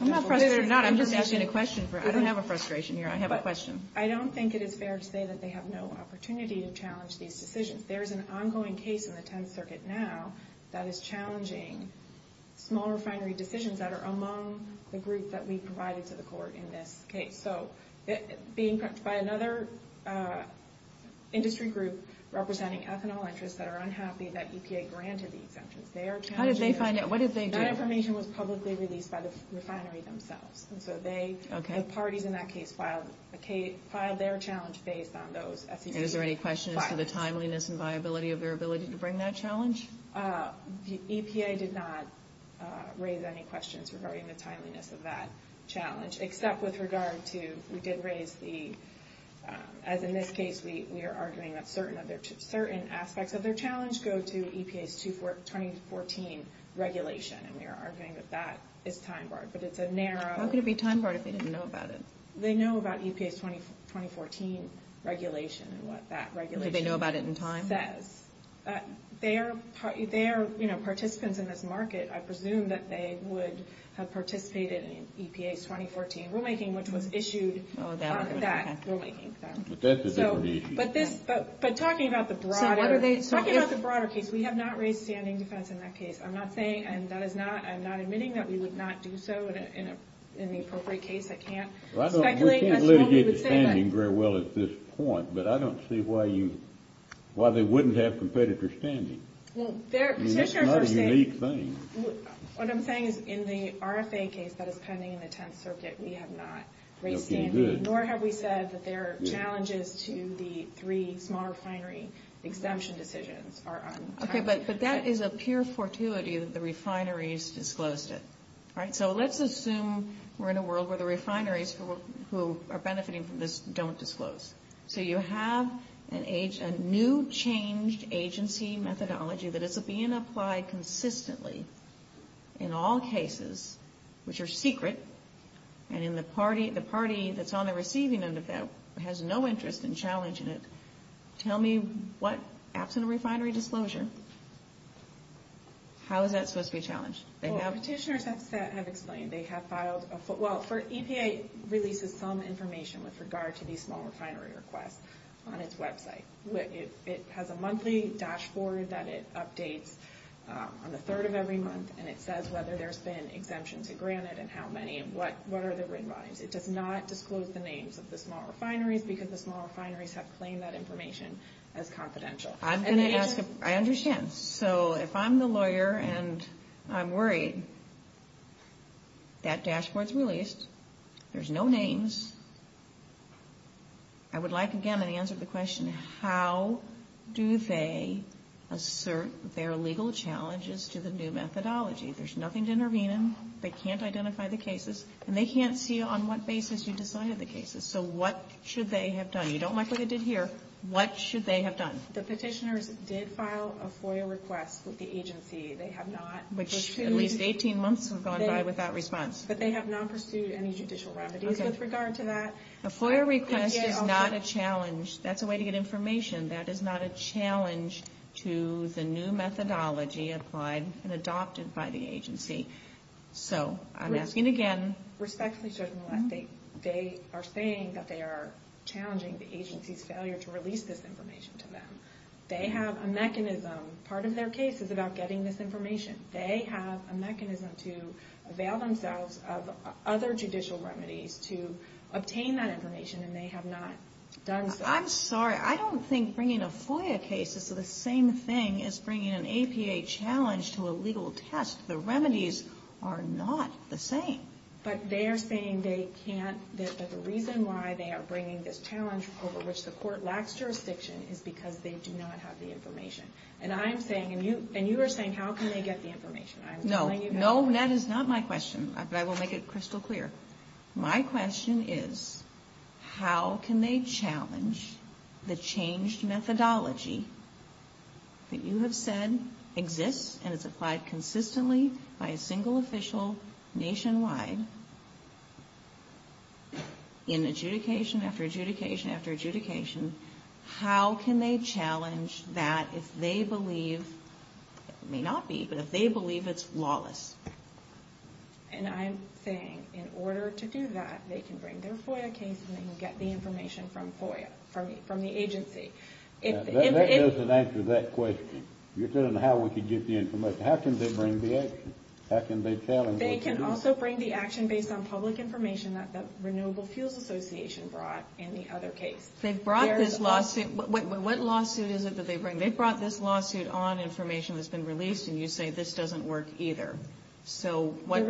I'm not frustrated or not. I'm just asking a question. I don't have a frustration here. I have a question. I don't think it is fair to say that they have no opportunity to challenge these decisions. There is an ongoing case in the Tenth Circuit now that is challenging small refinery decisions that are among the groups that we provided to the court in this case. So being prepped by another industry group representing ethanol interests that are unhappy that EPA granted the exemptions. How did they find out? What did they do? That information was publicly released by the refinery themselves. So the parties in that case filed their challenge based on those SEC guidelines. And is there any question as to the timeliness and viability of their ability to bring that challenge? The EPA did not raise any questions regarding the timeliness of that challenge. Except with regard to, we did raise the, as in this case we are arguing that certain aspects of their challenge go to EPA's 2014 regulation. And we are arguing that that is time barred. But it's a narrow... How could it be time barred if they didn't know about it? They know about EPA's 2014 regulation and what that regulation says. Do they know about it in time? They are participants in this market. I presume that they would have participated in EPA's 2014 rulemaking which was issued on that rulemaking. But talking about the broader case, we have not raised standing defense in that case. I'm not admitting that we would not do so in the appropriate case. I can't speculate as to what we would say. But I don't see why they wouldn't have competitors standing. It's not a unique thing. What I'm saying is in the RFA case that is pending in the Tenth Circuit, we have not raised standing. Nor have we said that their challenges to the three small refinery exemption decisions are untimely. But that is a pure fortuity that the refineries disclosed it. All right, so let's assume we're in a world where the refineries who are benefiting from this don't disclose. So you have a new changed agency methodology that is being applied consistently in all cases which are secret. And the party that's on the receiving end of that has no interest in challenging it. Tell me what, absent a refinery disclosure, how is that supposed to be challenged? Well, petitioners have explained. They have filed a, well, EPA releases some information with regard to these small refinery requests on its website. It has a monthly dashboard that it updates on the third of every month. And it says whether there's been exemptions granted and how many and what are the written volumes. It does not disclose the names of the small refineries because the small refineries have claimed that information as confidential. I'm going to ask a, I understand. So if I'm the lawyer and I'm worried, that dashboard's released, there's no names. I would like, again, an answer to the question, how do they assert their legal challenges to the new methodology? There's nothing to intervene in. They can't identify the cases. And they can't see on what basis you decided the cases. So what should they have done? You don't like what they did here. What should they have done? The petitioners did file a FOIA request with the agency. They have not pursued. Which at least 18 months have gone by without response. But they have not pursued any judicial remedies with regard to that. A FOIA request is not a challenge. That's a way to get information. That is not a challenge to the new methodology applied and adopted by the agency. So I'm asking again. They are saying that they are challenging the agency's failure to release this information to them. They have a mechanism. Part of their case is about getting this information. They have a mechanism to avail themselves of other judicial remedies to obtain that information. And they have not done so. I'm sorry. I don't think bringing a FOIA case is the same thing as bringing an APA challenge to a legal test. The remedies are not the same. But they are saying they can't, that the reason why they are bringing this challenge over which the court lacks jurisdiction is because they do not have the information. And I'm saying, and you are saying, how can they get the information? No. No, that is not my question. But I will make it crystal clear. My question is, how can they challenge the changed methodology that you have said exists and is applied consistently by a single official nationwide in adjudication after adjudication after adjudication? How can they challenge that if they believe, it may not be, but if they believe it's lawless? And I'm saying, in order to do that, they can bring their FOIA case and they can get the information from FOIA, from the agency. That doesn't answer that question. You're saying how we can get the information. How can they bring the action? How can they challenge what they do? They can also bring the action based on public information that the Renewable Fuels Association brought in the other case. They've brought this lawsuit. What lawsuit is it that they bring? They've brought this lawsuit on information that's been released and you say this doesn't work either. So what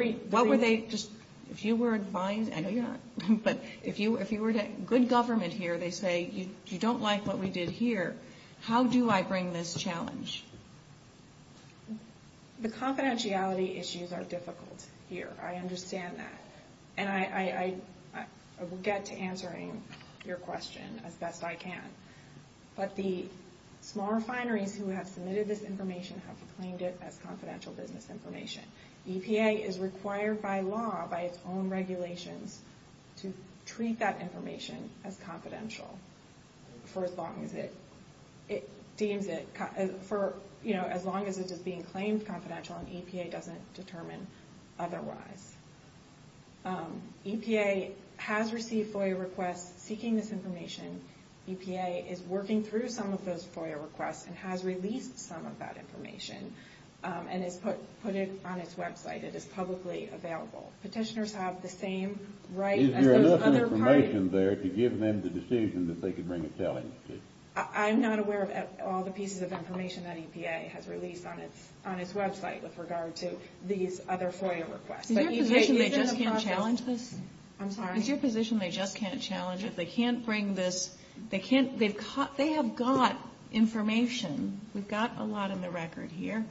would they just, if you were advised, I know you're not, but if you were to, good government here, they say you don't like what we did here. How do I bring this challenge? The confidentiality issues are difficult here. I understand that. And I will get to answering your question as best I can. But the small refineries who have submitted this information have claimed it as confidential business information. EPA is required by law, by its own regulations, to treat that information as confidential for as long as it is being claimed confidential and EPA doesn't determine otherwise. EPA has received FOIA requests seeking this information. EPA is working through some of those FOIA requests and has released some of that information and has put it on its website. It is publicly available. Petitioners have the same right as those other parties. Is there enough information there to give them the decision that they could bring a challenge to? I'm not aware of all the pieces of information that EPA has released on its website with regard to these other FOIA requests. I'm sorry? They have got information. We've got a lot on the record here.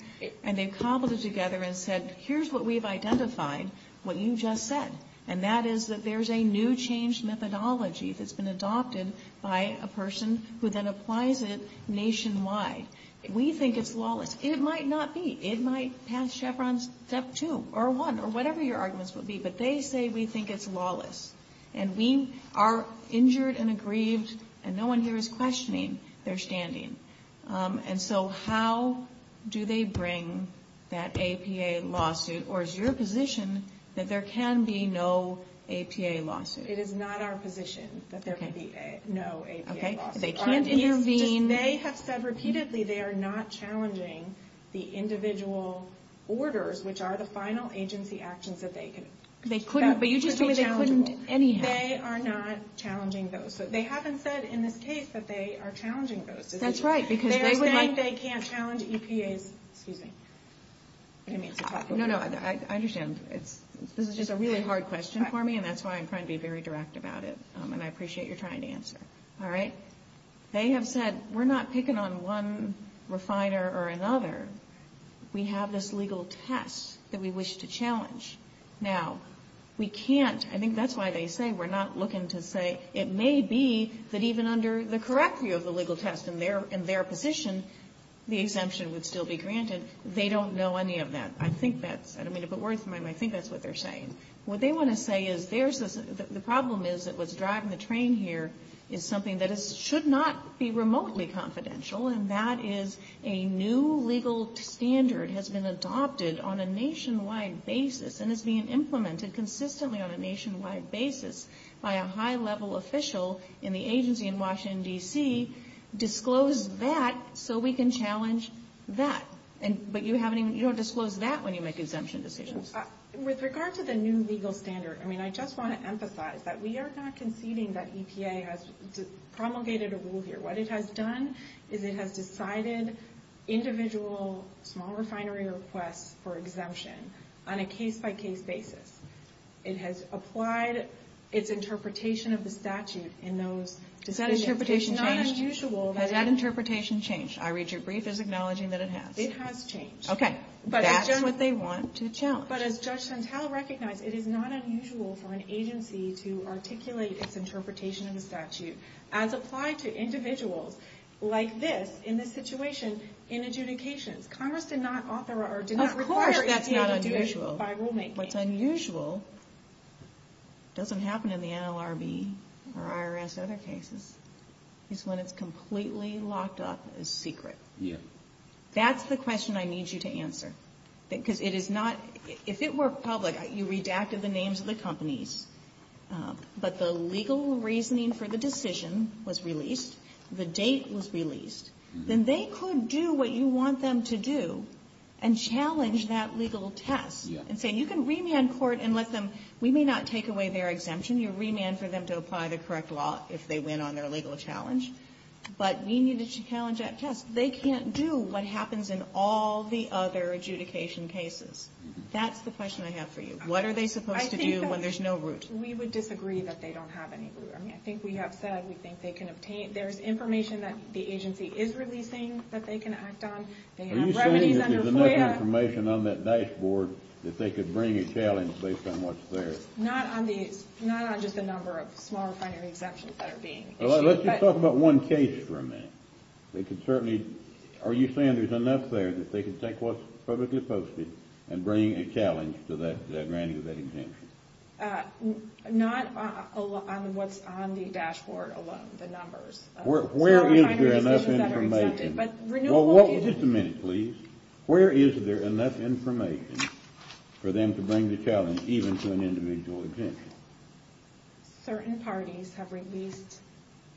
And they've cobbled it together and said, here's what we've identified, what you just said. And that is that there's a new change methodology that's been adopted by a person who then applies it nationwide. We think it's lawless. It might not be. It might pass Chevron's Step 2 or 1 or whatever your arguments would be. But they say we think it's lawless. And we are injured and aggrieved. And no one here is questioning their standing. And so how do they bring that APA lawsuit? Or is your position that there can be no APA lawsuit? It is not our position that there can be no APA lawsuit. Okay. They can't intervene. They have said repeatedly they are not challenging the individual orders, which are the final agency actions that they could. But you just told me they couldn't anyhow. They are not challenging those. They haven't said in this case that they are challenging those. That's right. They're saying they can't challenge EPA's, excuse me. No, no, I understand. This is just a really hard question for me. And that's why I'm trying to be very direct about it. And I appreciate your trying to answer. All right. They have said we're not picking on one refiner or another. We have this legal test that we wish to challenge. Now, we can't. I think that's why they say we're not looking to say. It may be that even under the correct view of the legal test and their position, the exemption would still be granted. They don't know any of that. I think that's what they're saying. What they want to say is the problem is that what's driving the train here is something that should not be remotely confidential. And that is a new legal standard has been adopted on a nationwide basis. And it's being implemented consistently on a nationwide basis by a high-level official in the agency in Washington, D.C. Disclose that so we can challenge that. But you don't disclose that when you make exemption decisions. With regard to the new legal standard, I mean, I just want to emphasize that we are not conceding that EPA has promulgated a rule here. What it has done is it has decided individual small refinery requests for exemption on a case-by-case basis. It has applied its interpretation of the statute in those decisions. Has that interpretation changed? I read your brief as acknowledging that it has. It has changed. Okay. That's what they want to challenge. But as Judge Santel recognized, it is not unusual for an agency to articulate its interpretation of the statute as applied to individuals like this, in this situation, in adjudications. Congress did not author or did not require EPA to do it by rulemaking. Of course that's not unusual. What's unusual doesn't happen in the NLRB or IRS other cases, is when it's completely locked up as secret. That's the question I need you to answer. Because it is not — if it were public, you redacted the names of the companies, but the legal reasoning for the decision was released, the date was released, then they could do what you want them to do and challenge that legal test and say, you can remand court and let them — we may not take away their exemption. You remand for them to apply the correct law if they win on their legal challenge. But we need to challenge that test. They can't do what happens in all the other adjudication cases. That's the question I have for you. What are they supposed to do when there's no root? We would disagree that they don't have any root. I mean, I think we have said we think they can obtain — there's information that the agency is releasing that they can act on. They have remedies under FOIA. Are you saying that there's enough information on that dashboard that they could bring a challenge based on what's there? Not on the — not on just the number of small refinery exemptions that are being issued. Let's just talk about one case for a minute. They could certainly — are you saying there's enough there that they could take what's publicly posted and bring a challenge to that granting of that exemption? Not on what's on the dashboard alone, the numbers. Where is there enough information? Small refinery exemptions that are exempted, but renewable — Just a minute, please. Where is there enough information for them to bring the challenge even to an individual exemption? Certain parties have released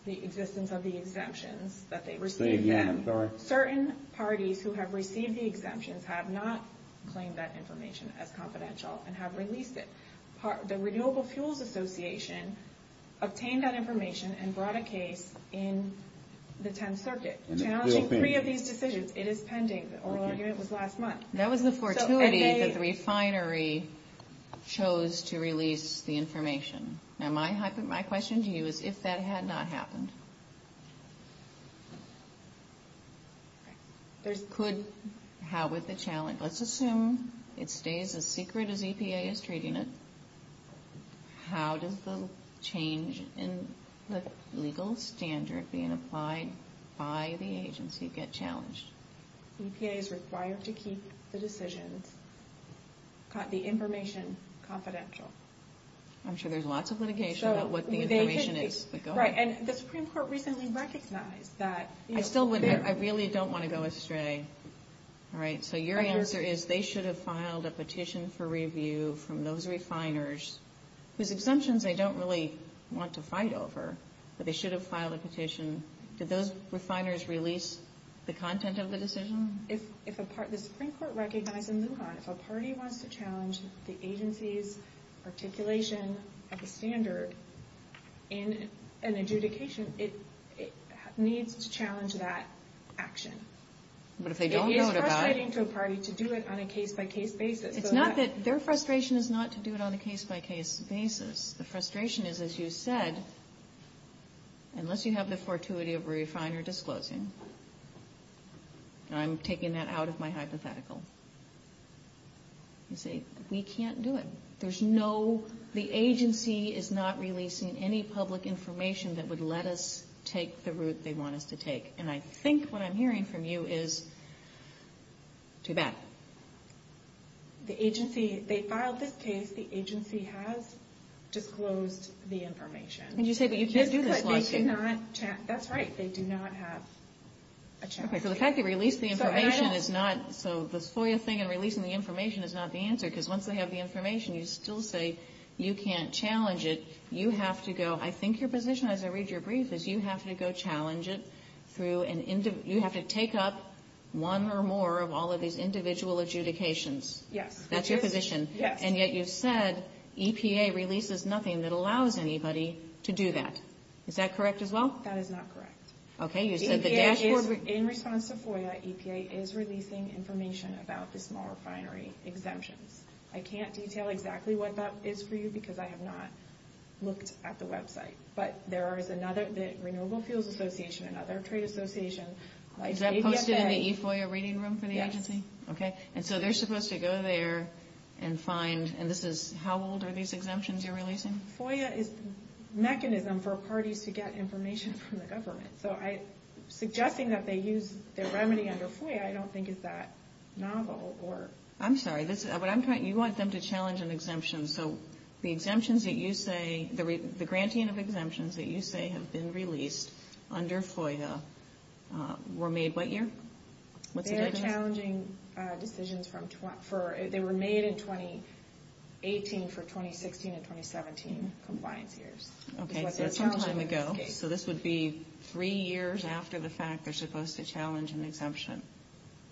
the existence of the exemptions that they received. Say it again. I'm sorry. Certain parties who have received the exemptions have not claimed that information as confidential and have released it. The Renewable Fuels Association obtained that information and brought a case in the 10th Circuit. And it's still pending. Challenging three of these decisions, it is pending. The oral argument was last month. That was the fortuity that the refinery chose to release the information. Now, my question to you is if that had not happened, could — how would the challenge — let's assume it stays as secret as EPA is treating it. How does the change in the legal standard being applied by the agency get challenged? EPA is required to keep the decisions, the information, confidential. I'm sure there's lots of litigation about what the information is. Right, and the Supreme Court recently recognized that — I still wouldn't — I really don't want to go astray. All right, so your answer is they should have filed a petition for review from those refiners, whose exemptions they don't really want to fight over, but they should have filed a petition. Did those refiners release the content of the decision? If a part — the Supreme Court recognized in Lujan, if a party wants to challenge the agency's articulation of the standard in an adjudication, it needs to challenge that action. But if they don't know what about — It is frustrating to a party to do it on a case-by-case basis. It's not that — their frustration is not to do it on a case-by-case basis. The frustration is, as you said, unless you have the fortuity of a refiner disclosing — and I'm taking that out of my hypothetical. You see, we can't do it. There's no — the agency is not releasing any public information that would let us take the route they want us to take. And I think what I'm hearing from you is, too bad. The agency — they filed this case. The agency has disclosed the information. And you say, but you can't do this lawsuit. That's right. They do not have a challenge. Okay, so the fact they released the information is not — so the FOIA thing and releasing the information is not the answer, because once they have the information, you still say you can't challenge it. You have to go — I think your position, as I read your brief, is you have to go challenge it through an — you have to take up one or more of all of these individual adjudications. Yes. That's your position. Yes. And yet you said EPA releases nothing that allows anybody to do that. Is that correct as well? That is not correct. Okay. You said the dashboard — EPA is — in response to FOIA, EPA is releasing information about the small refinery exemptions. I can't detail exactly what that is for you because I have not looked at the website. But there is another — the Renewable Fuels Association, another trade association. Is that posted in the eFOIA reading room for the agency? Yes. Okay. And so they're supposed to go there and find — and this is — how old are these exemptions you're releasing? FOIA is the mechanism for parties to get information from the government. So I — suggesting that they use their remedy under FOIA I don't think is that novel or — I'm sorry. This is — what I'm trying — you want them to challenge an exemption. So the exemptions that you say — the grantee of exemptions that you say have been released under FOIA were made what year? What's the date on this? They are challenging decisions from — they were made in 2018 for 2016 and 2017 compliance years. Okay. So that's some time ago. So this would be three years after the fact they're supposed to challenge an exemption.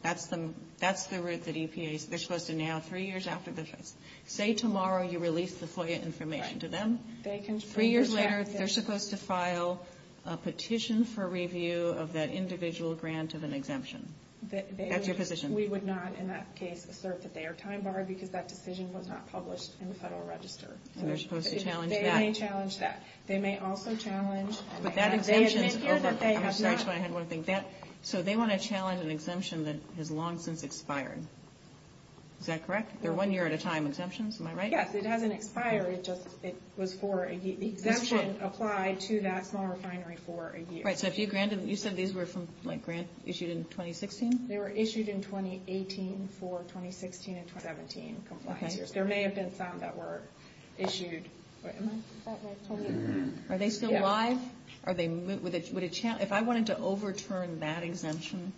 That's the — that's the route that EPA — they're supposed to now three years after the fact. Say tomorrow you release the FOIA information to them. Right. They can — Three years later they're supposed to file a petition for review of that individual grant of an exemption. That's your position. We would not in that case assert that they are time-barred because that decision was not published in the Federal Register. And they're supposed to challenge that. They may challenge that. They may also challenge — But that exemption is over — They admit here that they have not — I'm sorry. That's why I had one thing. That — so they want to challenge an exemption that has long since expired. Is that correct? They're one year at a time exemptions. Am I right? Yes. It hasn't expired. It just — it was for a — the exemption applied to that small refinery for a year. Right. So if you granted — you said these were from, like, grant issued in 2016? They were issued in 2018 for 2016 and 2017 compliance years. Okay. There may have been some that were issued — wait, am I — Is that my time? Are they still live? Yeah. Are they — would it — if I wanted to overturn that exemption,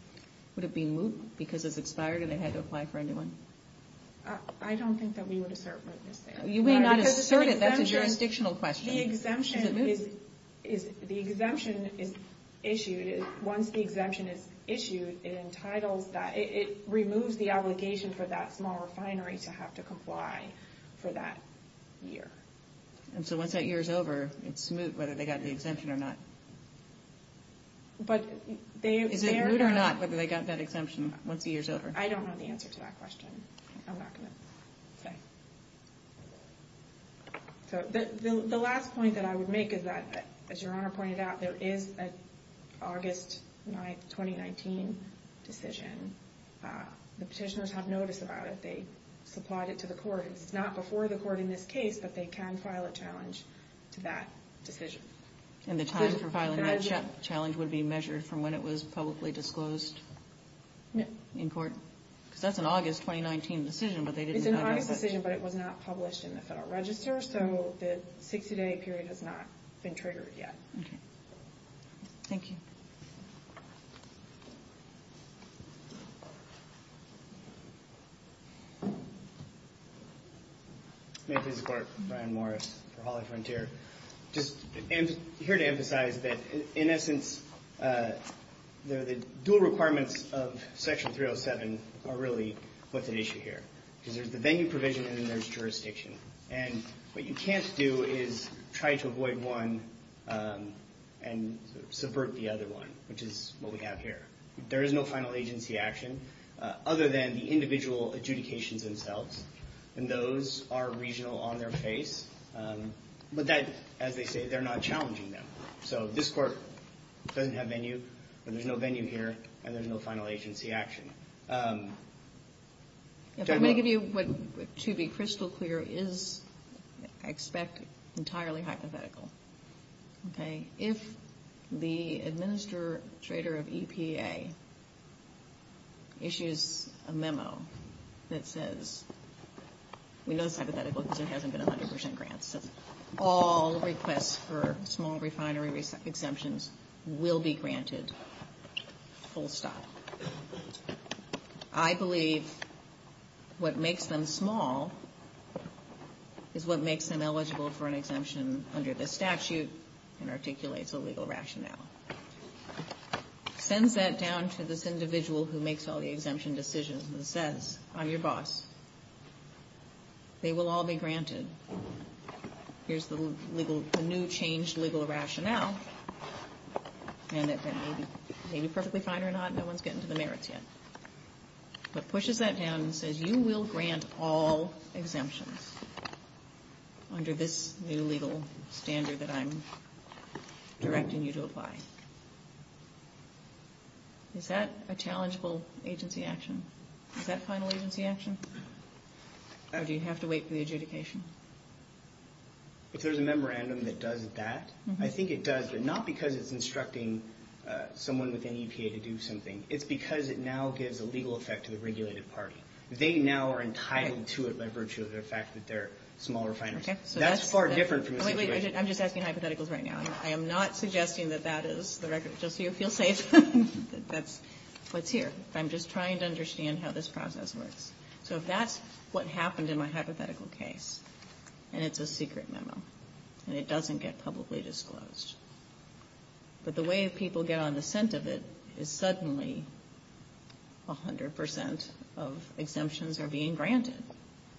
would it be moot because it's expired and they had to apply for a new one? I don't think that we would assert mootness there. You may not assert it. That's a jurisdictional question. The exemption is — Is it moot? The exemption is issued. Once the exemption is issued, it entitles that — it removes the obligation for that small refinery to have to comply for that year. And so once that year's over, it's moot whether they got the exemption or not? But they — Is it moot or not whether they got that exemption once the year's over? I don't know the answer to that question. I'm not going to say. The last point that I would make is that, as Your Honor pointed out, there is an August 2019 decision. The petitioners have notice about it. They supplied it to the court. It's not before the court in this case, but they can file a challenge to that decision. And the time for filing that challenge would be measured from when it was publicly disclosed in court? Because that's an August 2019 decision, but they didn't — It's an August decision, but it was not published in the Federal Register. So the 60-day period has not been triggered yet. Okay. Thank you. May I please support Brian Morris for Hawley Frontier? Just here to emphasize that, in essence, the dual requirements of Section 307 are really what's at issue here. Because there's the venue provision and then there's jurisdiction. And what you can't do is try to avoid one and subvert the other one, which is what we have here. There is no final agency action other than the individual adjudications themselves. And those are regional on their face. But that, as they say, they're not challenging them. So this Court doesn't have venue, and there's no venue here, and there's no final agency action. If I may give you what, to be crystal clear, is, I expect, entirely hypothetical. Okay? If the administrator of EPA issues a memo that says — we know it's hypothetical because there hasn't been 100 percent grants. All requests for small refinery exemptions will be granted full stop. I believe what makes them small is what makes them eligible for an exemption under this statute and articulates a legal rationale. Sends that down to this individual who makes all the exemption decisions and says, I'm your boss. They will all be granted. Here's the new changed legal rationale. And that may be perfectly fine or not. No one's getting to the merits yet. But pushes that down and says, you will grant all exemptions under this new legal standard that I'm directing you to apply. Is that a challengeable agency action? Is that final agency action? Or do you have to wait for the adjudication? If there's a memorandum that does that, I think it does. But not because it's instructing someone within EPA to do something. It's because it now gives a legal effect to the regulated party. They now are entitled to it by virtue of the fact that they're small refiners. That's far different from the situation. I'm just asking hypotheticals right now. I am not suggesting that that is the record. Just so you feel safe, that's what's here. I'm just trying to understand how this process works. So if that's what happened in my hypothetical case, and it's a secret memo, and it doesn't get publicly disclosed, but the way people get on the scent of it is suddenly 100% of exemptions are being granted.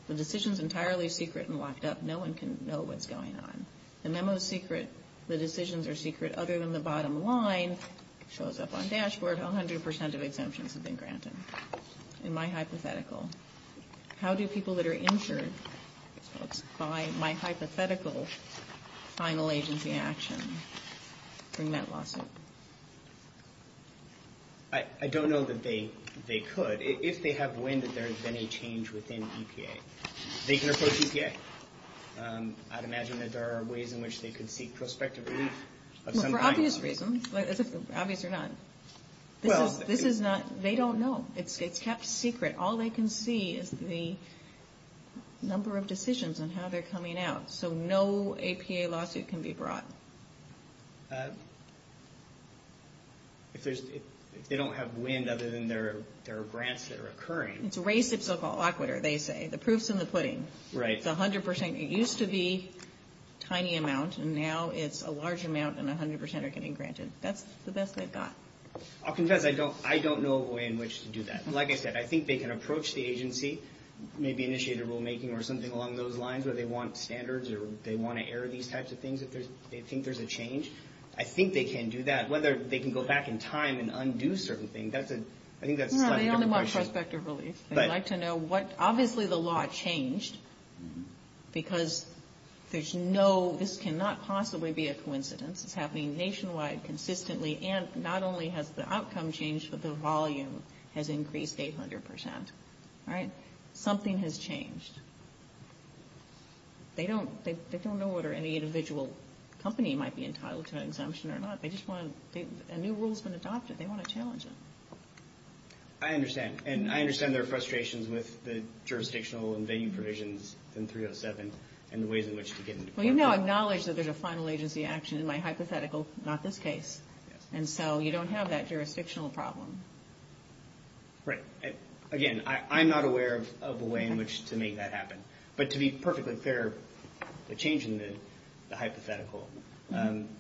The decision's entirely secret and locked up. No one can know what's going on. The memo's secret. The decisions are secret. Other than the bottom line, shows up on dashboard, 100% of exemptions have been granted. In my hypothetical. How do people that are injured by my hypothetical final agency action bring that lawsuit? I don't know that they could. If they have, when, that there has been a change within EPA. They can approach EPA. I'd imagine that there are ways in which they could seek prospective relief of some kind. For obvious reasons. Obvious or not. This is not, they don't know. It's kept secret. All they can see is the number of decisions and how they're coming out. So no EPA lawsuit can be brought. If they don't have wind other than there are grants that are occurring. It's a race of so-called aquater, they say. The proof's in the pudding. Right. It's 100%. It used to be a tiny amount, and now it's a large amount, and 100% are getting granted. That's the best they've got. I'll confess, I don't know of a way in which to do that. Like I said, I think they can approach the agency. Maybe initiate a rulemaking or something along those lines where they want standards or they want to air these types of things if they think there's a change. I think they can do that. Whether they can go back in time and undo certain things, I think that's a slightly different question. No, they only want prospective relief. They'd like to know what, obviously the law changed because there's no, this cannot possibly be a coincidence. It's happening nationwide, consistently, and not only has the outcome changed, but the volume has increased 800%. All right. Something has changed. They don't know what any individual company might be entitled to an exemption or not. They just want to, a new rule's been adopted. They want to challenge it. I understand. And I understand their frustrations with the jurisdictional and venue provisions in 307 and the ways in which to get it. Well, you now acknowledge that there's a final agency action in my hypothetical, not this case. And so you don't have that jurisdictional problem. Right. Again, I'm not aware of a way in which to make that happen. But to be perfectly fair, the change in the hypothetical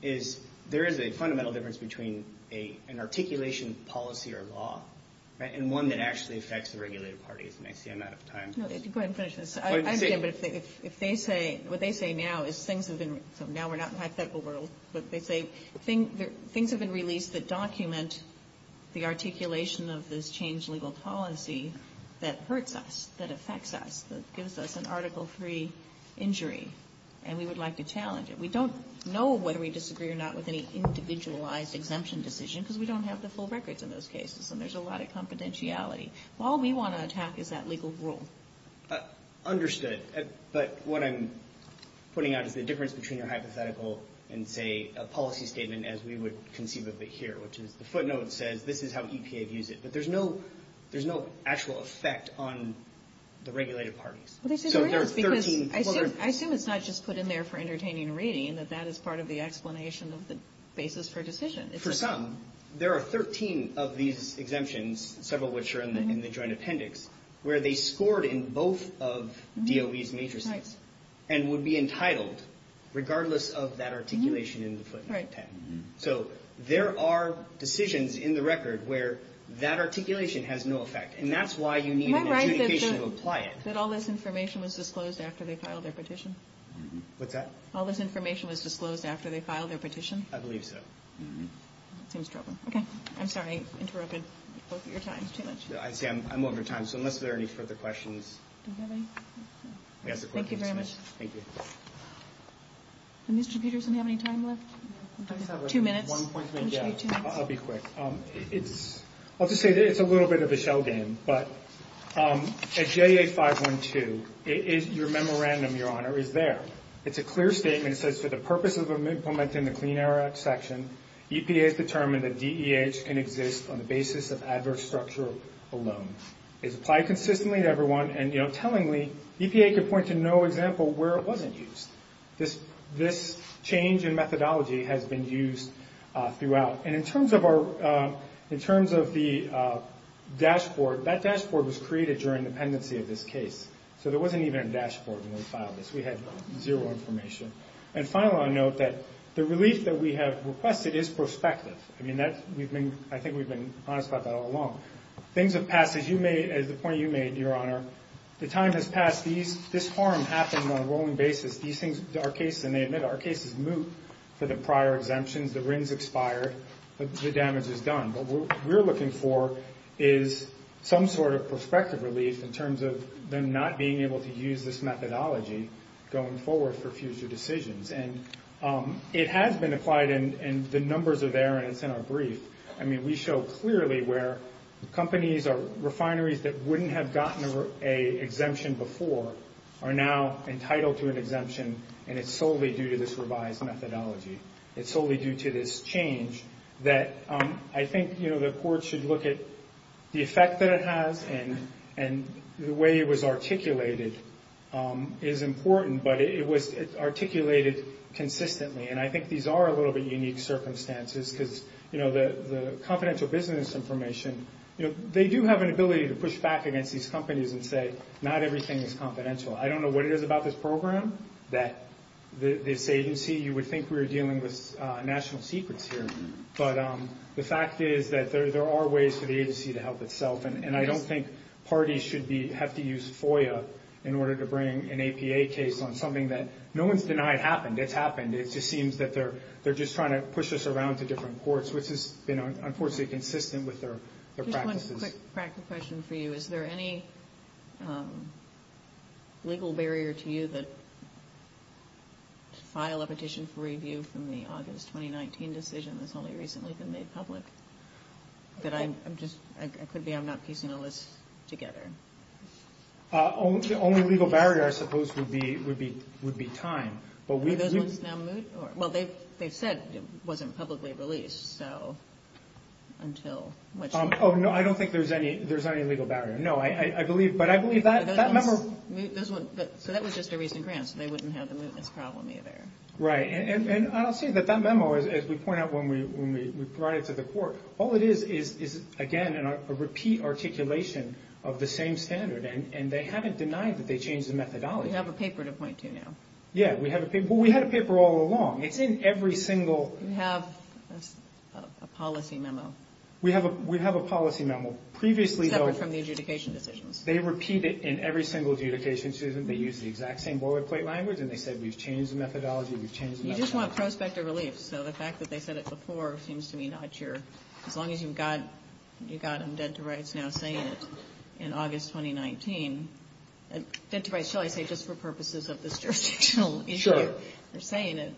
is there is a fundamental difference between an articulation policy or law and one that actually affects the regulated parties. And I see I'm out of time. Go ahead and finish this. I understand. But if they say, what they say now is things have been, so now we're not in hypothetical world. But they say things have been released that document the articulation of this change legal policy that hurts us, that affects us, that gives us an Article III injury. And we would like to challenge it. We don't know whether we disagree or not with any individualized exemption decision because we don't have the full records in those cases. And there's a lot of confidentiality. All we want to attack is that legal rule. Understood. But what I'm putting out is the difference between your hypothetical and, say, a policy statement as we would conceive of it here, which is the footnote says this is how EPA views it. But there's no actual effect on the regulated parties. Well, they say there is because I assume it's not just put in there for entertaining reading, that that is part of the explanation of the basis for decision. For some. There are 13 of these exemptions, several which are in the joint appendix, where they scored in both of DOE's matrices and would be entitled regardless of that articulation in the footnote 10. So there are decisions in the record where that articulation has no effect. And that's why you need an adjudication to apply it. Am I right that all this information was disclosed after they filed their petition? What's that? All this information was disclosed after they filed their petition? I believe so. It seems troubling. Okay. I'm sorry. I interrupted both of your times too much. I see. I'm over time. So unless there are any further questions. Thank you very much. Thank you. Mr. Peterson, do you have any time left? Two minutes. I'll be quick. I'll just say it's a little bit of a shell game. But at JA 512, your memorandum, Your Honor, is there. It's a clear statement. It says for the purposes of implementing the Clean Air Act section, EPA has determined that DEH can exist on the basis of adverse structure alone. It's applied consistently to everyone. And, you know, tellingly, EPA can point to no example where it wasn't used. This change in methodology has been used throughout. And in terms of the dashboard, that dashboard was created during the pendency of this case. So there wasn't even a dashboard when we filed this. We had zero information. And finally, I'll note that the relief that we have requested is prospective. I mean, I think we've been honest about that all along. Things have passed. As you made, as the point you made, Your Honor, the time has passed. This harm happened on a rolling basis. These things, our cases, and they admit our cases, moot for the prior exemptions. The RINs expired. The damage is done. What we're looking for is some sort of prospective relief in terms of them not being able to use this methodology going forward for future decisions. And it has been applied, and the numbers are there, and it's in our brief. I mean, we show clearly where companies or refineries that wouldn't have gotten an exemption before are now entitled to an exemption, and it's solely due to this revised methodology. It's solely due to this change that I think the court should look at the effect that it has and the way it was articulated is important, but it was articulated consistently. And I think these are a little bit unique circumstances because the confidential business information, they do have an ability to push back against these companies and say not everything is confidential. I don't know what it is about this program that this agency, you would think we were dealing with national secrets here, but the fact is that there are ways for the agency to help itself, and I don't think parties should have to use FOIA in order to bring an APA case on something that no one's denied happened. It's happened. It just seems that they're just trying to push us around to different courts, which has been, unfortunately, consistent with their practices. Just one quick practical question for you. Is there any legal barrier to you that to file a petition for review from the August 2019 decision that's only recently been made public? Could be I'm not piecing all this together. The only legal barrier, I suppose, would be time. Are those ones now moot? Well, they've said it wasn't publicly released, so until... Oh, no, I don't think there's any legal barrier. No, but I believe that memo... So that was just a recent grant, so they wouldn't have the mootness problem either. Right, and I'll say that that memo, as we point out when we brought it to the court, all it is is, again, a repeat articulation of the same standard, and they haven't denied that they changed the methodology. We have a paper to point to now. Yeah, we have a paper. Well, we had a paper all along. It's in every single... You have a policy memo. We have a policy memo. Except from the adjudication decisions. They repeat it in every single adjudication decision. They use the exact same boilerplate language, and they said we've changed the methodology, we've changed the methodology. You just want prospective relief, so the fact that they said it before seems to me not your... As long as you've got them dead to rights now saying it in August 2019. Dead to rights, shall I say, just for purposes of this jurisdictional issue. Sure. They're saying it.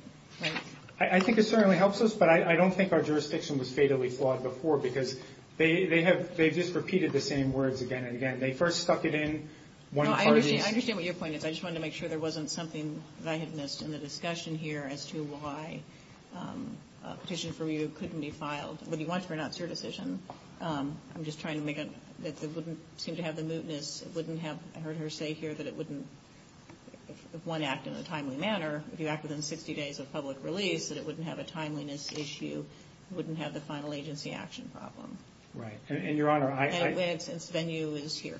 I think it certainly helps us, but I don't think our jurisdiction was fatally flawed before, because they've just repeated the same words again and again. They first stuck it in... No, I understand what your point is. I just wanted to make sure there wasn't something that I had missed in the discussion here as to why a petition from you couldn't be filed. Whether you want it or not, it's your decision. I'm just trying to make it that it wouldn't seem to have the mootness. It wouldn't have... I heard her say here that it wouldn't... If one act in a timely manner, if you act within 60 days of public release, that it wouldn't have a timeliness issue. It wouldn't have the final agency action problem. Right. And, Your Honor, I... And since venue is here.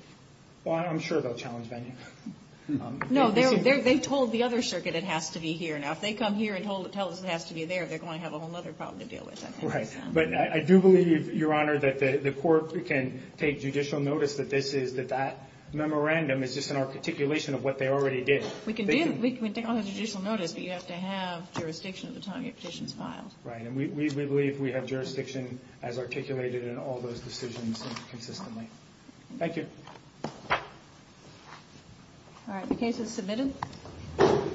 Well, I'm sure they'll challenge venue. No, they've told the other circuit it has to be here. Now, if they come here and tell us it has to be there, they're going to have a whole other problem to deal with, I think. Right. But I do believe, Your Honor, that the court can take judicial notice that this is... That that memorandum is just an articulation of what they already did. We can do... We can take all the judicial notice, but you have to have jurisdiction at the time your petition is filed. Right. And we believe we have jurisdiction as articulated in all those decisions consistently. Thank you. All right. The case is submitted.